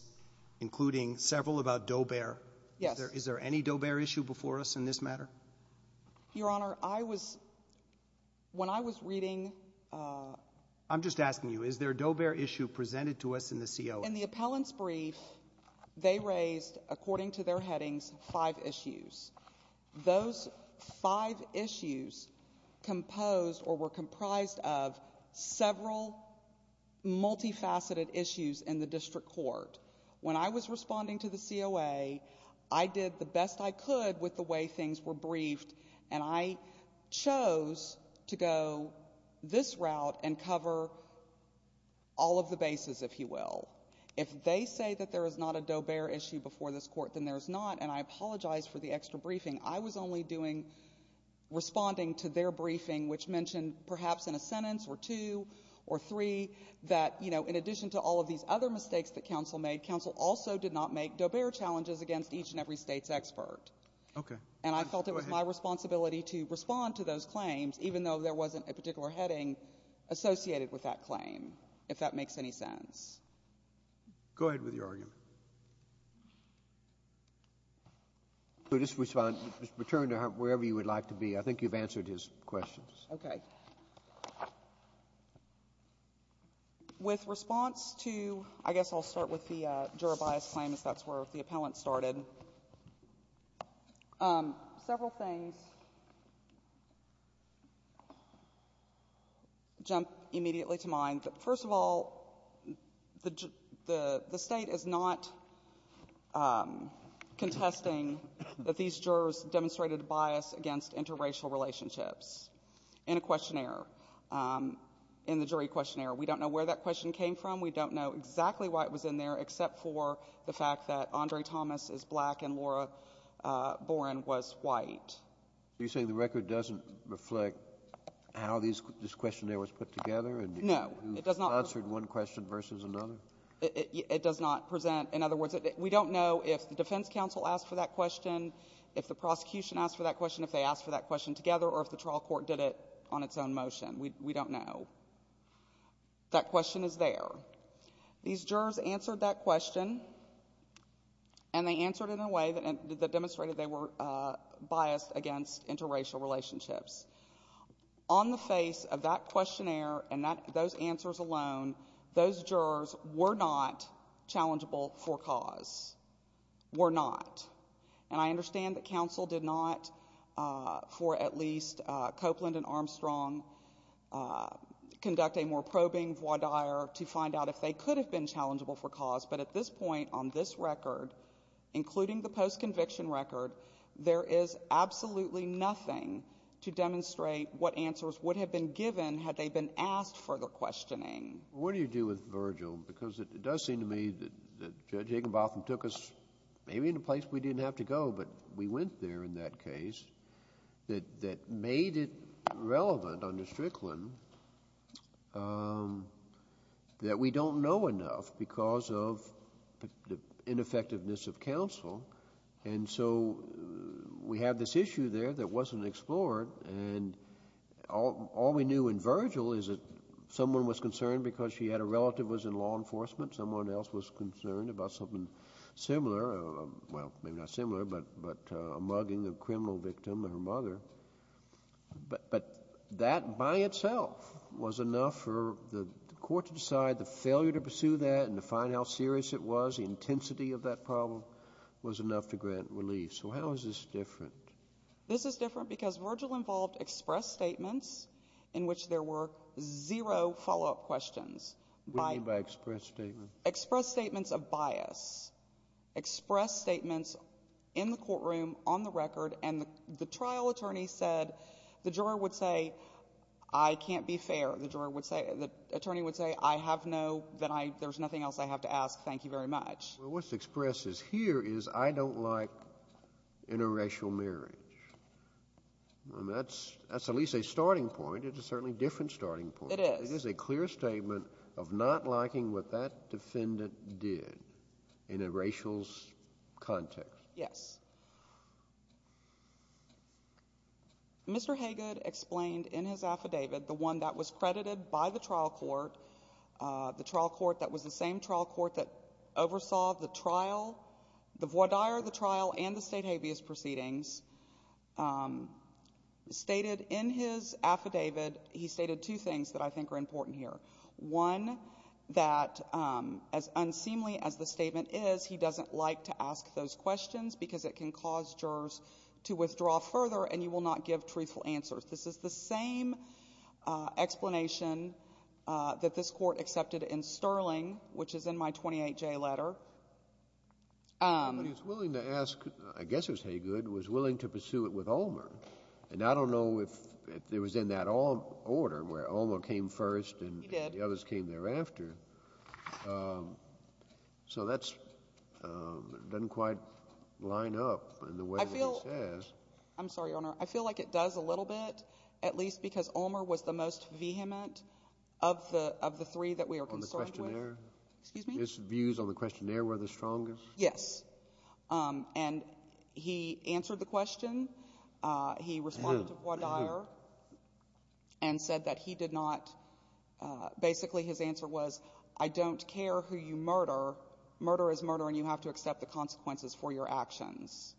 including several about Doe-Bear. Yes. Is there any Doe-Bear issue before us in this matter? Your Honor, I was — when I was reading — I'm just asking you, is there a Doe-Bear issue presented to us in the COS? In the appellant's brief, they raised, according to their headings, five issues. Those five issues composed or were comprised of several multifaceted issues in the district court. When I was responding to the COA, I did the best I could with the way things were briefed, and I chose to go this route and cover all of the bases, if you will. If they say that there is not a Doe-Bear issue before this court, then there is not, and I apologize for the extra briefing. I was only doing — responding to their briefing, which mentioned, perhaps in a sentence or two or three, that, you know, in addition to all of these other mistakes that counsel made, counsel also did not make Doe-Bear challenges against each and every state's expert. Okay. And I felt it was my responsibility to respond to those claims, even though there wasn't a particular heading associated with that claim, if that makes any sense. Go ahead with your argument. Just return to wherever you would like to be. I think you've answered his questions. Okay. With response to — I guess I'll start with the juror bias claim, as that's where the appellant started. Several things jump immediately to mind. First of all, the State is not contesting that these jurors demonstrated a bias against interracial relationships in a questionnaire, in the jury questionnaire. We don't know where that question came from. We don't know exactly why it was in there, except for the fact that Andre Thomas is black and Laura Boren was white. Are you saying the record doesn't reflect how this questionnaire was put together? No, it does not. Answered one question versus another? It does not present — in other words, we don't know if the defense counsel asked for that question, if the prosecution asked for that question, if they asked for that question together, or if the trial court did it on its own motion. We don't know. That question is there. These jurors answered that question, and they answered it in a way that demonstrated they were biased against interracial relationships. On the face of that questionnaire and those answers alone, those jurors were not challengeable for cause. Were not. And I understand that counsel did not, for at least Copeland and Armstrong, conduct a more probing voir dire to find out if they could have been challengeable for cause, but at this point on this record, including the post-conviction record, there is absolutely nothing to demonstrate what answers would have been given had they been asked for the questioning. What do you do with Virgil? Because it does seem to me that Judge Higginbotham took us maybe in a place we didn't have to go, but we went there in that case, that made it relevant under Strickland that we don't know enough because of the ineffectiveness of counsel, and so we had this issue there that wasn't explored, and all we knew in Virgil is that someone was concerned because she had a relative who was in law enforcement. Someone else was concerned about something similar. Well, maybe not similar, but a mugging of a criminal victim and her mother. But that by itself was enough for the court to decide the failure to pursue that and to find out how serious it was, the intensity of that problem was enough to grant relief. So how is this different? This is different because Virgil involved express statements in which there were zero follow-up questions. What do you mean by express statements? Express statements of bias. Express statements in the courtroom, on the record, and the trial attorney said, the juror would say, I can't be fair. The attorney would say, I have no, there's nothing else I have to ask. Thank you very much. Well, what's expressed here is I don't like interracial marriage. That's at least a starting point. It's a certainly different starting point. It is. This is a clear statement of not liking what that defendant did in a racial context. Yes. Mr. Hagood explained in his affidavit, the one that was credited by the trial court, the trial court that was the same trial court that oversaw the trial, the voir dire of the trial and the state habeas proceedings, stated in his affidavit, he stated two things that I think are important here. One, that as unseemly as the statement is, he doesn't like to ask those questions because it can cause jurors to withdraw further and you will not give truthful answers. This is the same explanation that this Court accepted in Sterling, which is in my 28J letter. But he was willing to ask, I guess it was Hagood, was willing to pursue it with Olmer. And I don't know if it was in that order where Olmer came first and the others came thereafter. So that doesn't quite line up in the way that it says. I'm sorry, Your Honor. I feel like it does a little bit, at least because Olmer was the most vehement of the three that we are concerned with. On the questionnaire? Excuse me? His views on the questionnaire were the strongest? Yes. And he answered the question. He responded to Baudire and said that he did not, basically his answer was, I don't care who you murder, murder is murder and you have to accept the consequences for your actions.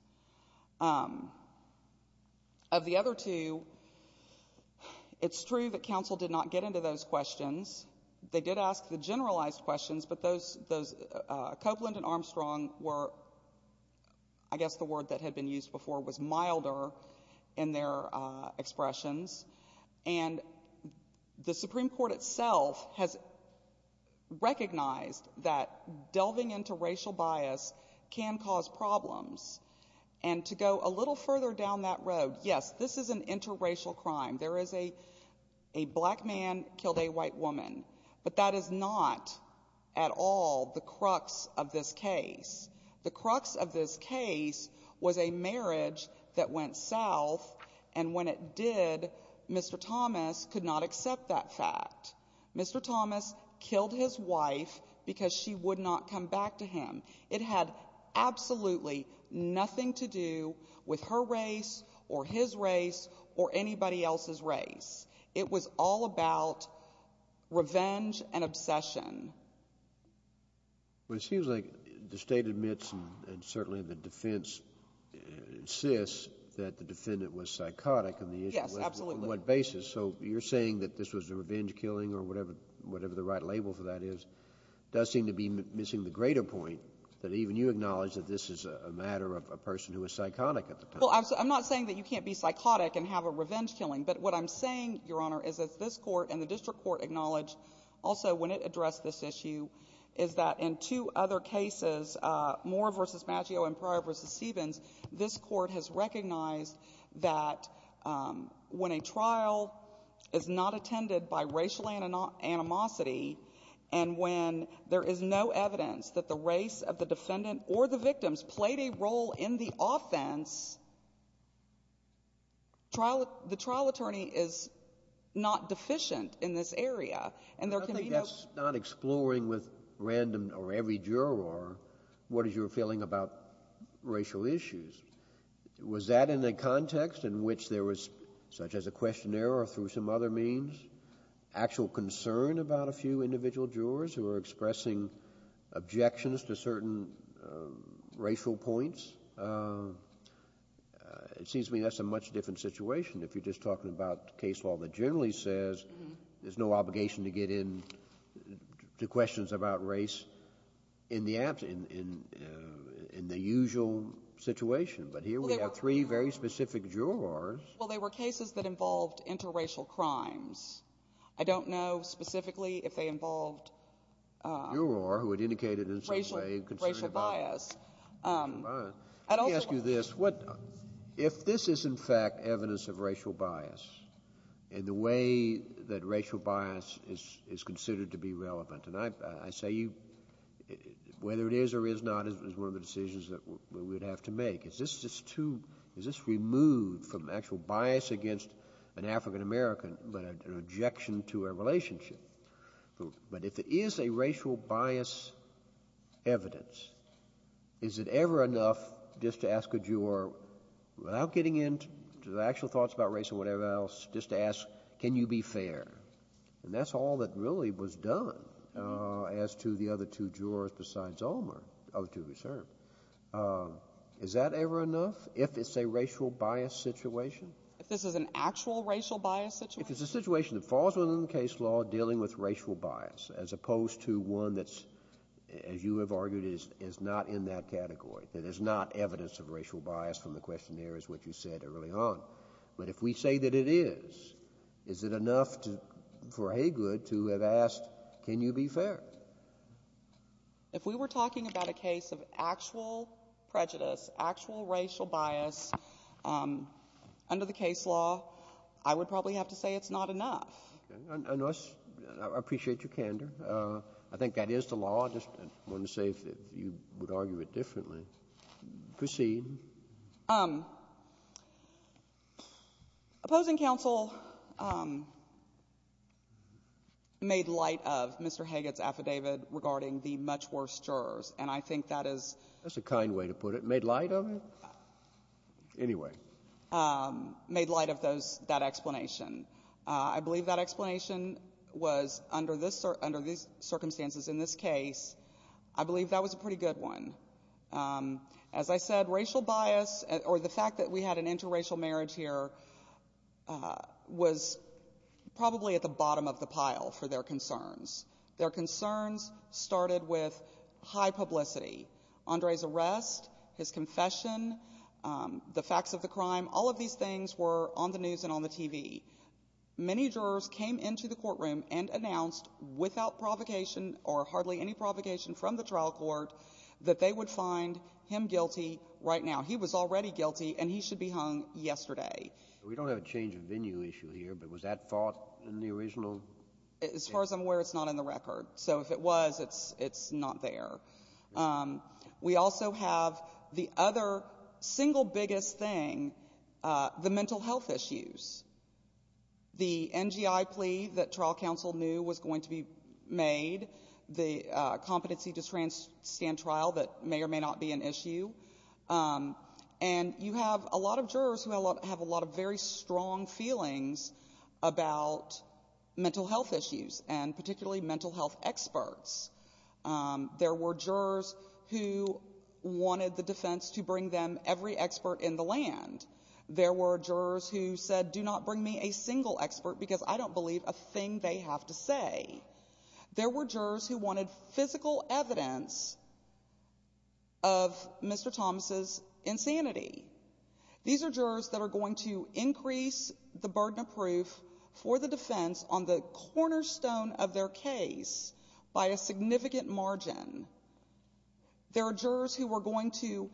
Of the other two, it's true that counsel did not get into those questions. They did ask the generalized questions, but those, Copeland and Armstrong were, I guess the word that had been used before was milder in their expressions. And the Supreme Court itself has recognized that delving into racial bias can cause problems. And to go a little further down that road, yes, this is an interracial crime. There is a black man killed a white woman, but that is not at all the crux of this case. The crux of this case was a marriage that went south, and when it did, Mr. Thomas could not accept that fact. Mr. Thomas killed his wife because she would not come back to him. It had absolutely nothing to do with her race or his race or anybody else's race. It was all about revenge and obsession. Well, it seems like the State admits and certainly the defense insists that the defendant was psychotic. Yes, absolutely. On what basis? So you're saying that this was a revenge killing or whatever the right label for that is. It does seem to be missing the greater point that even you acknowledge that this is a matter of a person who was psychotic at the time. Well, I'm not saying that you can't be psychotic and have a revenge killing, but what I'm saying, Your Honor, is that this Court and the district court acknowledge also when it addressed this issue is that in two other cases, Moore v. Maggio and Pryor v. Stevens, this court has recognized that when a trial is not attended by racial animosity and when there is no evidence that the race of the defendant or the victims played a role in the offense, the trial attorney is not deficient in this area. And there can be no ---- I think that's not exploring with random or every juror what is your feeling about racial issues. Was that in a context in which there was such as a questionnaire or through some other means there was actual concern about a few individual jurors who were expressing objections to certain racial points? It seems to me that's a much different situation if you're just talking about case law that generally says there's no obligation to get into questions about race in the usual situation. But here we have three very specific jurors. Well, they were cases that involved interracial crimes. I don't know specifically if they involved racial bias. Let me ask you this. If this is in fact evidence of racial bias in the way that racial bias is considered to be relevant, and I say whether it is or is not is one of the decisions that we would have to make, is this removed from actual bias against an African-American but an objection to a relationship? But if it is a racial bias evidence, is it ever enough just to ask a juror, without getting into the actual thoughts about race or whatever else, just to ask can you be fair? And that's all that really was done as to the other two jurors besides Ulmer, the other two who served. Is that ever enough if it's a racial bias situation? If this is an actual racial bias situation? If it's a situation that falls within the case law dealing with racial bias, as opposed to one that's, as you have argued, is not in that category, that is not evidence of racial bias from the questionnaires which you said early on. But if we say that it is, is it enough for Haygood to have asked can you be fair? If we were talking about a case of actual prejudice, actual racial bias under the case law, I would probably have to say it's not enough. Okay. I appreciate your candor. I think that is the law. I just wanted to say if you would argue it differently. Proceed. Opposing counsel made light of Mr. Haygood's affidavit regarding the much worse jurors, and I think that is. That's a kind way to put it. Made light of it? Anyway. Made light of that explanation. I believe that explanation was under these circumstances in this case, I believe that was a pretty good one. As I said, racial bias, or the fact that we had an interracial marriage here, was probably at the bottom of the pile for their concerns. Their concerns started with high publicity. Andre's arrest, his confession, the facts of the crime, all of these things were on the news and on the TV. Many jurors came into the courtroom and announced without provocation or hardly any provocation from the trial court that they would find him guilty right now. He was already guilty, and he should be hung yesterday. We don't have a change of venue issue here, but was that thought in the original? As far as I'm aware, it's not in the record. So if it was, it's not there. We also have the other single biggest thing, the mental health issues. The NGI plea that trial counsel knew was going to be made, the competency to stand trial that may or may not be an issue. And you have a lot of jurors who have a lot of very strong feelings about mental health issues, and particularly mental health experts. There were jurors who wanted the defense to bring them every expert in the land. There were jurors who said, do not bring me a single expert because I don't believe a thing they have to say. There were jurors who wanted physical evidence of Mr. Thomas' insanity. These are jurors that are going to increase the burden of proof for the defense on the cornerstone of their case by a significant margin. There are jurors who were going to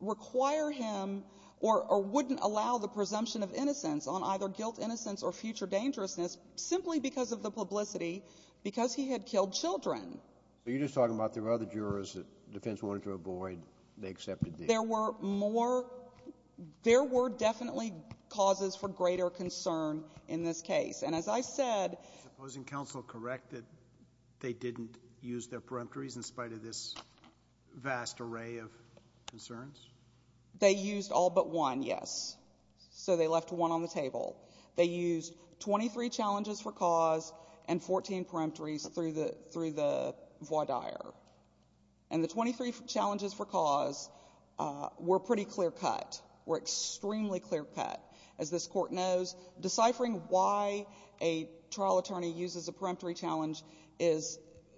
require him or wouldn't allow the presumption of innocence on either guilt, innocence, or future dangerousness simply because of the publicity because he had killed children. So you're just talking about there were other jurors that the defense wanted to avoid. They accepted these. There were more. There were definitely causes for greater concern in this case. Is the opposing counsel correct that they didn't use their peremptories in spite of this vast array of concerns? They used all but one, yes. So they left one on the table. They used 23 challenges for cause and 14 peremptories through the voir dire. And the 23 challenges for cause were pretty clear-cut, were extremely clear-cut. As this Court knows, deciphering why a trial attorney uses a peremptory challenge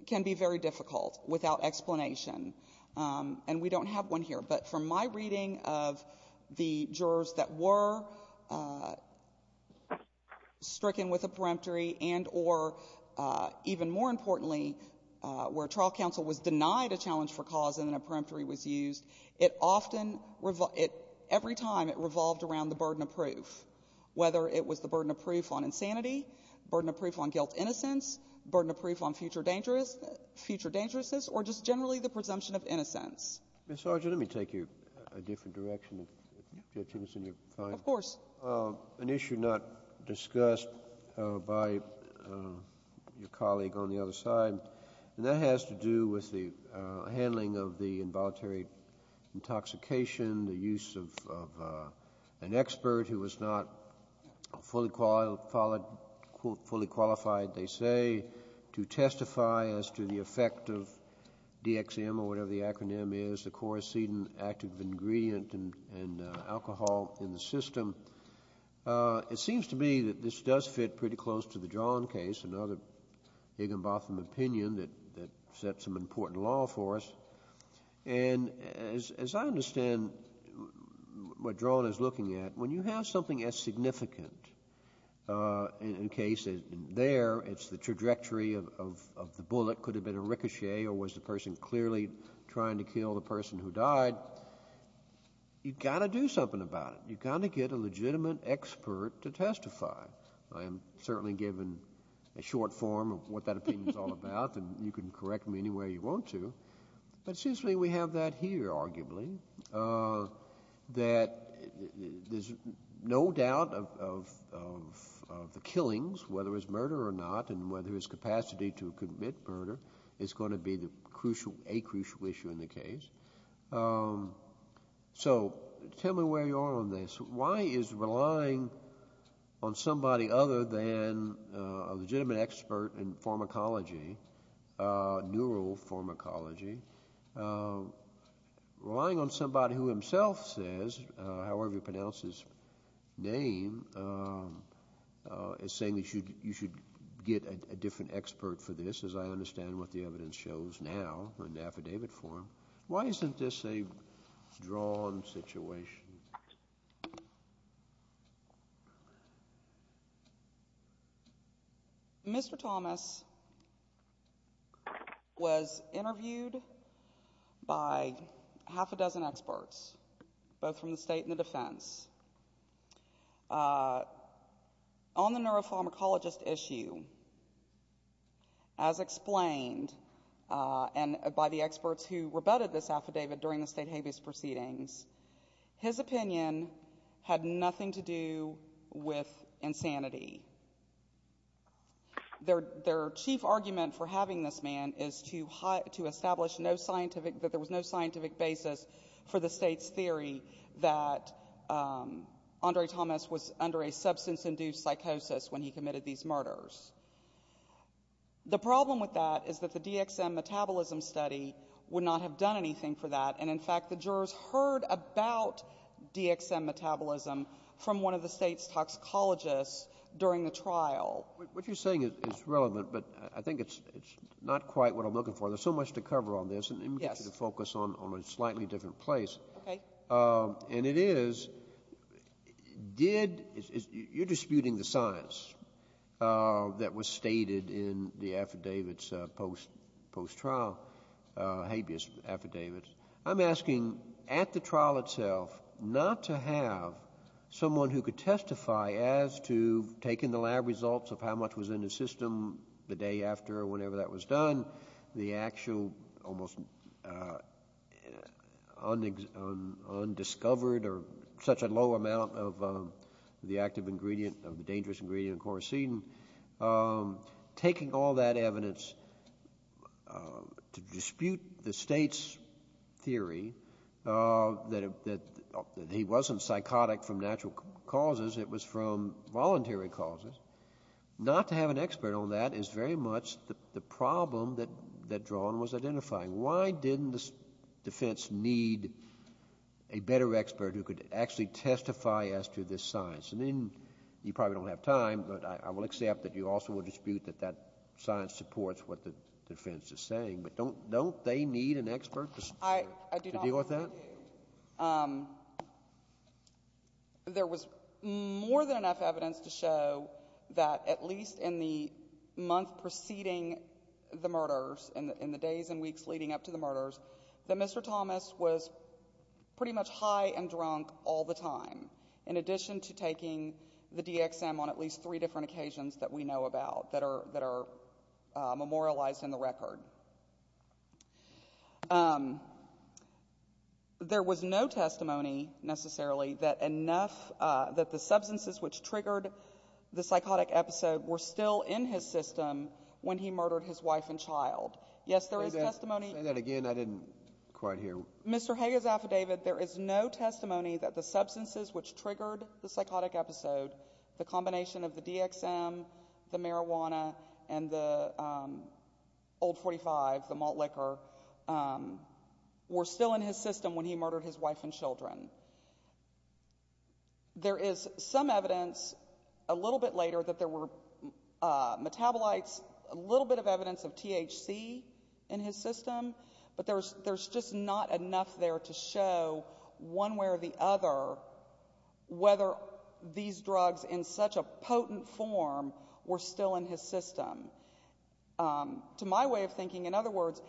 can be very difficult without explanation. And we don't have one here. But from my reading of the jurors that were stricken with a peremptory and or, even more importantly, where trial counsel was denied a challenge for cause and then a peremptory was used, it often revolved — every time it revolved around the burden of proof, whether it was the burden of proof on insanity, burden of proof on guilt-innocence, burden of proof on future dangerous — future dangerousness, or just generally the presumption of innocence. Mr. Arjun, let me take you a different direction, if that seems to be fine. Of course. An issue not discussed by your colleague on the other side, and that has to do with the handling of the involuntary intoxication, the use of an expert who was not fully qualified, they say, to testify as to the effect of DXM, or whatever the acronym is, the chorocedin active ingredient in alcohol in the system. It seems to me that this does fit pretty close to the John case, another Higginbotham opinion that sets some important law for us. And as I understand what Drone is looking at, when you have something as significant, in case there it's the trajectory of the bullet, could have been a ricochet, or was the person clearly trying to kill the person who died, you've got to do something about it. You've got to get a legitimate expert to testify. I am certainly given a short form of what that opinion is all about, and you can correct me anywhere you want to. But it seems to me we have that here, arguably, that there's no doubt of the killings, whether it's murder or not, and whether his capacity to commit murder is going to be a crucial issue in the case. So tell me where you are on this. Why is relying on somebody other than a legitimate expert in pharmacology, neuropharmacology, relying on somebody who himself says, however you pronounce his name, is saying that you should get a different expert for this, as I understand what the evidence shows now in the affidavit form. Why isn't this a drawn situation? Mr. Thomas was interviewed by half a dozen experts, both from the state and the defense, on the neuropharmacologist issue, as explained by the experts who rebutted this affidavit during the state habeas proceedings, his opinion had nothing to do with insanity. Their chief argument for having this man is to establish that there was no scientific basis for the state's theory that Andre Thomas was under a substance-induced psychosis when he committed these murders. The problem with that is that the DXM metabolism study would not have done anything for that, and in fact the jurors heard about DXM metabolism from one of the state's toxicologists during the trial. What you're saying is relevant, but I think it's not quite what I'm looking for. There's so much to cover on this, and let me get you to focus on a slightly different place. Okay. And it is, you're disputing the science that was stated in the affidavits post-trial, habeas affidavits. I'm asking at the trial itself not to have someone who could testify as to taking the lab results of how much was in the system the day after or whenever that was done, the actual almost undiscovered or such a low amount of the active ingredient, of the dangerous ingredient in quercetin, taking all that evidence to dispute the state's theory that he wasn't psychotic from natural causes. It was from voluntary causes. Not to have an expert on that is very much the problem that Drawn was identifying. Why didn't the defense need a better expert who could actually testify as to this science? I mean, you probably don't have time, but I will accept that you also will dispute that that science supports what the defense is saying, but don't they need an expert to deal with that? I agree. There was more than enough evidence to show that at least in the month preceding the murders, in the days and weeks leading up to the murders, that Mr. Thomas was pretty much high and drunk all the time, in addition to taking the DXM on at least three different occasions that we know about that are memorialized in the record. There was no testimony necessarily that the substances which triggered the psychotic episode were still in his system when he murdered his wife and child. Yes, there is testimony. Say that again. I didn't quite hear. Mr. Hague's affidavit, there is no testimony that the substances which triggered the psychotic episode, the combination of the DXM, the marijuana, and the Old 45, the malt liquor, were still in his system when he murdered his wife and children. There is some evidence a little bit later that there were metabolites, a little bit of evidence of THC in his system, but there's just not enough there to show one way or the other whether these drugs in such a potent form were still in his system. To my way of thinking, in other words,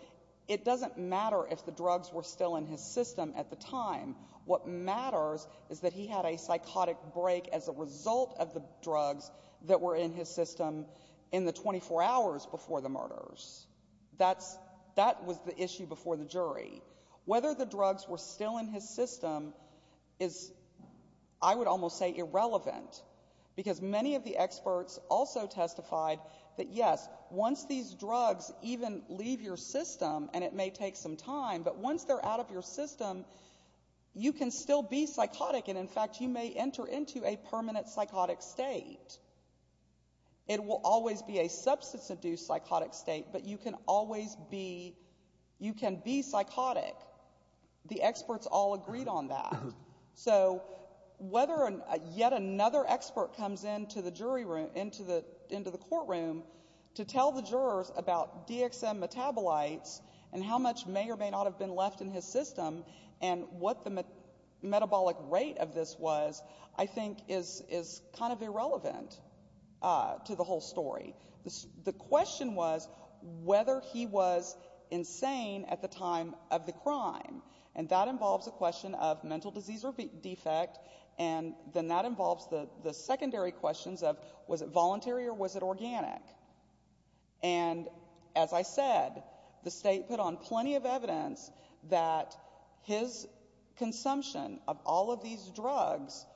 it doesn't matter if the drugs were still in his system at the time. What matters is that he had a psychotic break as a result of the drugs that were in his system in the 24 hours before the murders. That was the issue before the jury. Whether the drugs were still in his system is, I would almost say, irrelevant because many of the experts also testified that, yes, once these drugs even leave your system, and it may take some time, but once they're out of your system, you can still be psychotic and, in fact, you may enter into a permanent psychotic state. It will always be a substance-induced psychotic state, but you can always be psychotic. The experts all agreed on that. So whether yet another expert comes into the courtroom to tell the jurors about DXM metabolites and how much may or may not have been left in his system and what the metabolic rate of this was, I think is kind of irrelevant to the whole story. The question was whether he was insane at the time of the crime, and that involves a question of mental disease or defect, and then that involves the secondary questions of, was it voluntary or was it organic? And as I said, the state put on plenty of evidence that his consumption of all of these drugs,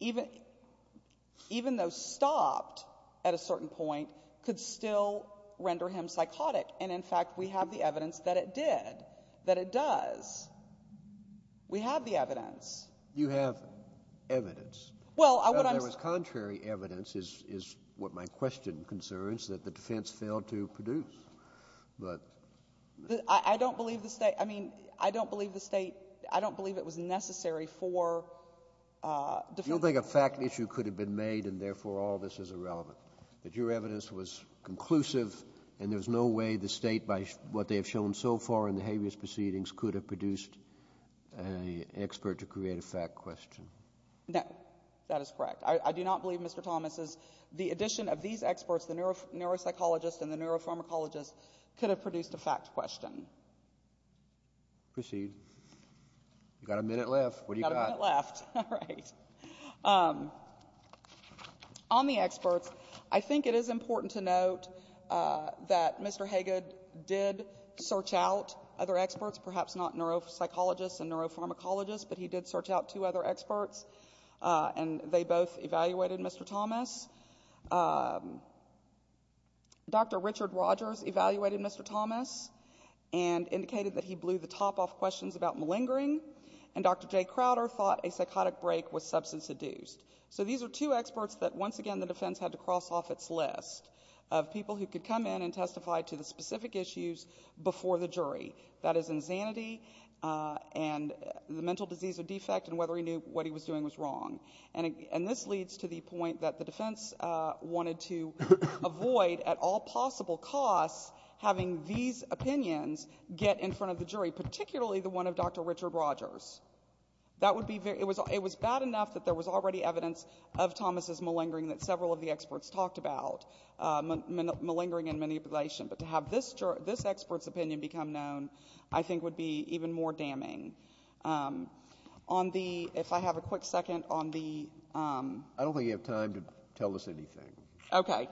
even though stopped at a certain point, could still render him psychotic, and, in fact, we have the evidence that it did, that it does. We have the evidence. You have evidence. Well, what I'm saying... There was contrary evidence, is what my question concerns, that the defense failed to produce. But... I don't believe the state — I mean, I don't believe the state — You don't think a fact issue could have been made and, therefore, all this is irrelevant, that your evidence was conclusive and there's no way the state, by what they have shown so far in the habeas proceedings, could have produced an expert to create a fact question? That is correct. I do not believe, Mr. Thomas, the addition of these experts, the neuropsychologists and the neuropharmacologists, could have produced a fact question. Proceed. You've got a minute left. What have you got? I've got a minute left. All right. On the experts, I think it is important to note that Mr. Haggad did search out other experts, perhaps not neuropsychologists and neuropharmacologists, but he did search out two other experts, and they both evaluated Mr. Thomas. Dr. Richard Rogers evaluated Mr. Thomas and indicated that he blew the top off questions about malingering, and Dr. Jay Crowder thought a psychotic break was substance-induced. So these are two experts that, once again, the defense had to cross off its list of people who could come in and testify to the specific issues before the jury, that is, insanity and the mental disease or defect and whether he knew what he was doing was wrong. And this leads to the point that the defense wanted to avoid, at all possible costs, having these opinions get in front of the jury, particularly the one of Dr. Richard Rogers. It was bad enough that there was already evidence of Thomas's malingering that several of the experts talked about, malingering and manipulation, but to have this expert's opinion become known I think would be even more damning. If I have a quick second on the ---- I don't think you have time to tell us anything. Okay.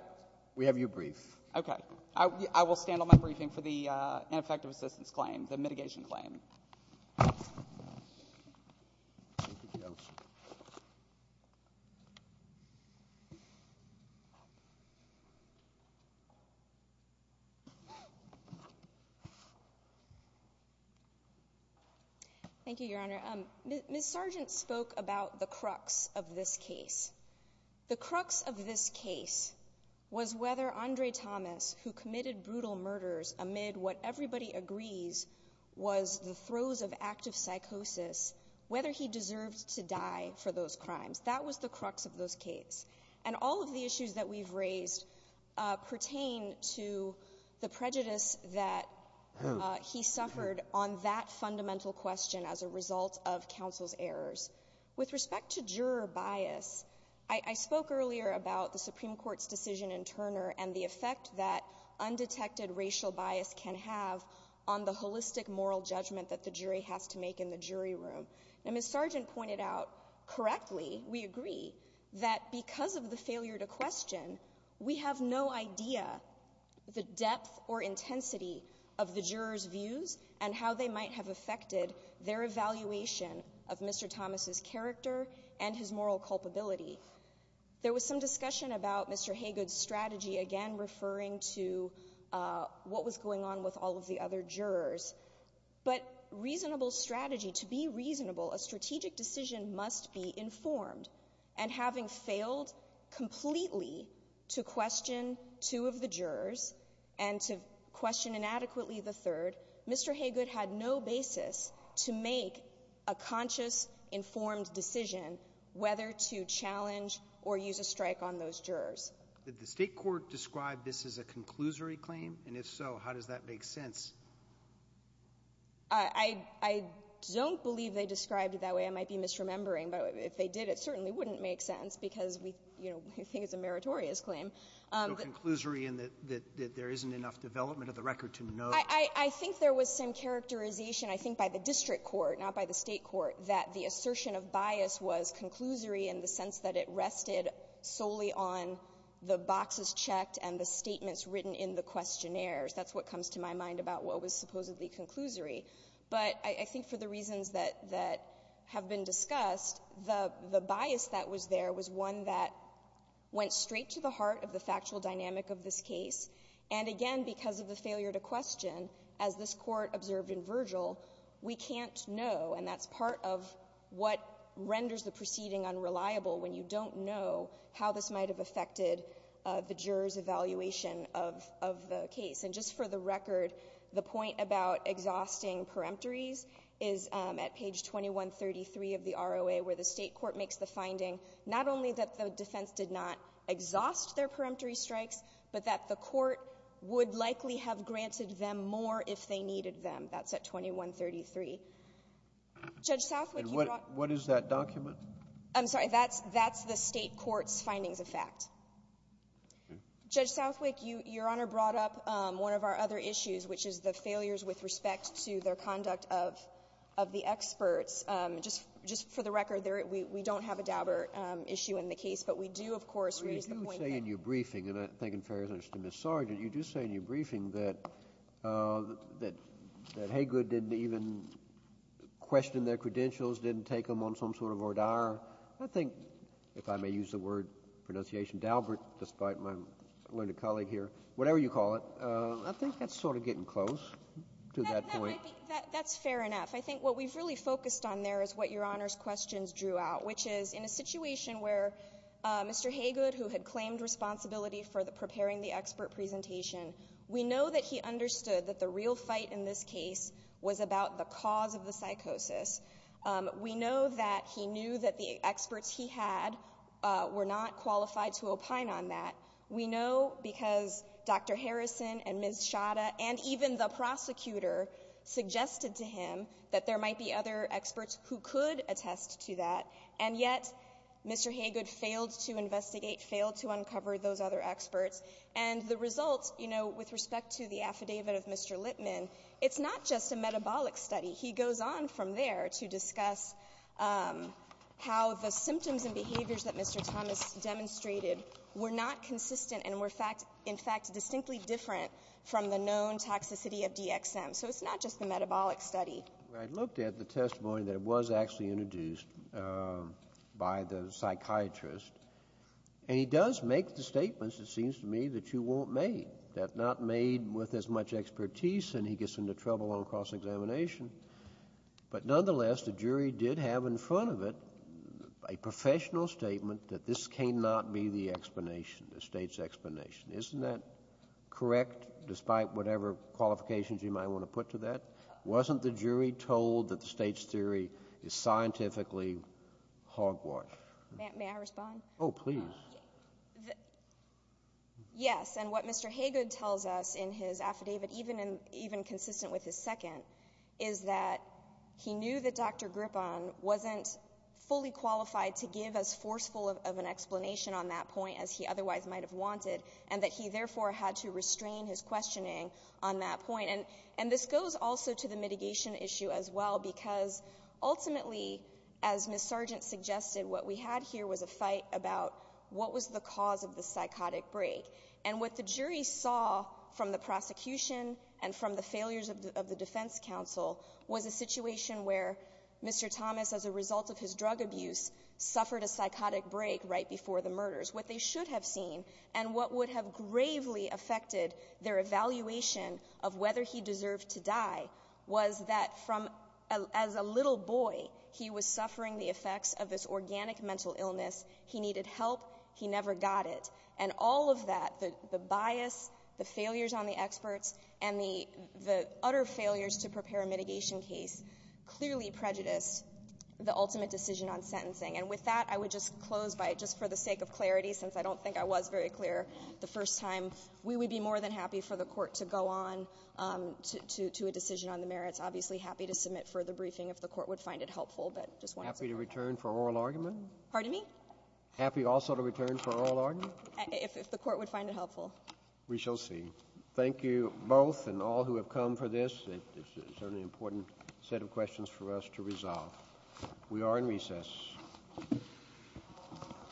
We have your brief. Okay. I will stand on my briefing for the ineffective assistance claim, the mitigation claim. Thank you, Your Honor. Ms. Sargent spoke about the crux of this case. The crux of this case was whether Andre Thomas, who committed brutal murders amid what everybody agrees was the throes of active psychosis, whether he deserved to die for those crimes. That was the crux of this case. And all of the issues that we've raised pertain to the prejudice that he suffered on that fundamental question as a result of counsel's errors. With respect to juror bias, I spoke earlier about the Supreme Court's decision in Turner and the effect that undetected racial bias can have on the holistic moral judgment that the jury has to make in the jury room. And Ms. Sargent pointed out correctly, we agree, that because of the failure to question, we have no idea the depth or intensity of the jurors' views and how they might have affected their evaluation of Mr. Thomas's character and his moral culpability. There was some discussion about Mr. Haygood's strategy, again referring to what was going on with all of the other jurors. But reasonable strategy, to be reasonable, a strategic decision must be informed. And having failed completely to question two of the jurors and to question inadequately the third, Mr. Haygood had no basis to make a conscious, informed decision whether to challenge or use a strike on those jurors. Did the State court describe this as a conclusory claim? And if so, how does that make sense? I don't believe they described it that way. I might be misremembering. But if they did, it certainly wouldn't make sense because we think it's a meritorious claim. So conclusory in that there isn't enough development of the record to know. I think there was some characterization, I think, by the district court, not by the State court, that the assertion of bias was conclusory in the sense that it rested solely on the boxes checked and the statements written in the questionnaires. That's what comes to my mind about what was supposedly conclusory. But I think for the reasons that have been discussed, the bias that was there was one that went straight to the heart of the factual dynamic of this case. And, again, because of the failure to question, as this Court observed in Virgil, we can't know, and that's part of what renders the proceeding unreliable when you don't know how this might have affected the jurors' evaluation of the case. And just for the record, the point about exhausting peremptories is at page 2133 of the ROA, where the State court makes the finding not only that the defense did not exhaust their peremptory strikes, but that the court would likely have granted them more if they did not exhaust their peremptory strikes at page 2133. And what is that document? I'm sorry. That's the State court's findings of fact. Judge Southwick, Your Honor brought up one of our other issues, which is the failures with respect to their conduct of the experts. Just for the record, we don't have a doubter issue in the case, but we do, of course, raise the point that ---- Well, you do say in your briefing, and I think in fairness to Ms. Sargent, you do say in your briefing that Haygood didn't even question their credentials, didn't take them on some sort of order. I think, if I may use the word pronunciation, Dalbert, despite my learned colleague here, whatever you call it, I think that's sort of getting close to that point. That's fair enough. I think what we've really focused on there is what Your Honor's questions drew out, which is in a situation where Mr. Haygood, who had claimed responsibility for preparing the expert presentation, we know that he understood that the real fight in this case was about the cause of the psychosis. We know that he knew that the experts he had were not qualified to opine on that. We know because Dr. Harrison and Ms. Shada and even the prosecutor suggested to him that there might be other experts who could attest to that, and yet Mr. Haygood failed to investigate, failed to uncover those other experts. And the result, you know, with respect to the affidavit of Mr. Lippman, it's not just a metabolic study. He goes on from there to discuss how the symptoms and behaviors that Mr. Thomas demonstrated were not consistent and were, in fact, distinctly different from the known toxicity of DXM. So it's not just the metabolic study. Well, I looked at the testimony that was actually introduced by the psychiatrist, and he does make the statements, it seems to me, that you want made, that not made with as much expertise and he gets into trouble on cross-examination. But nonetheless, the jury did have in front of it a professional statement that this cannot be the explanation, the State's explanation. Isn't that correct, despite whatever qualifications you might want to put to that? Wasn't the jury told that the State's theory is scientifically hogwash? May I respond? Oh, please. Yes, and what Mr. Haygood tells us in his affidavit, even consistent with his second, is that he knew that Dr. Grippon wasn't fully qualified to give as forceful of an explanation on that point as he otherwise might have wanted, and that he therefore had to restrain his questioning on that point. And this goes also to the mitigation issue as well, because ultimately, as Ms. Sargent suggested, what we had here was a fight about what was the cause of the psychotic break. And what the jury saw from the prosecution and from the failures of the defense counsel was a situation where Mr. Thomas, as a result of his drug abuse, suffered a psychotic break right before the murders. What they should have seen and what would have gravely affected their evaluation of whether he deserved to die was that as a little boy, he was suffering the effects of this organic mental illness. He needed help. He never got it. And all of that, the bias, the failures on the experts, and the utter failures to prepare a mitigation case, clearly prejudiced the ultimate decision on sentencing. And with that, I would just close by just for the sake of clarity, since I don't think I was very clear the first time. We would be more than happy for the Court to go on to a decision on the merits. Obviously, happy to submit further briefing if the Court would find it helpful. But I just wanted to say that. Happy to return for oral argument? Pardon me? Happy also to return for oral argument? If the Court would find it helpful. We shall see. Thank you both and all who have come for this. It's certainly an important set of questions for us to resolve. We are in recess. Thank you.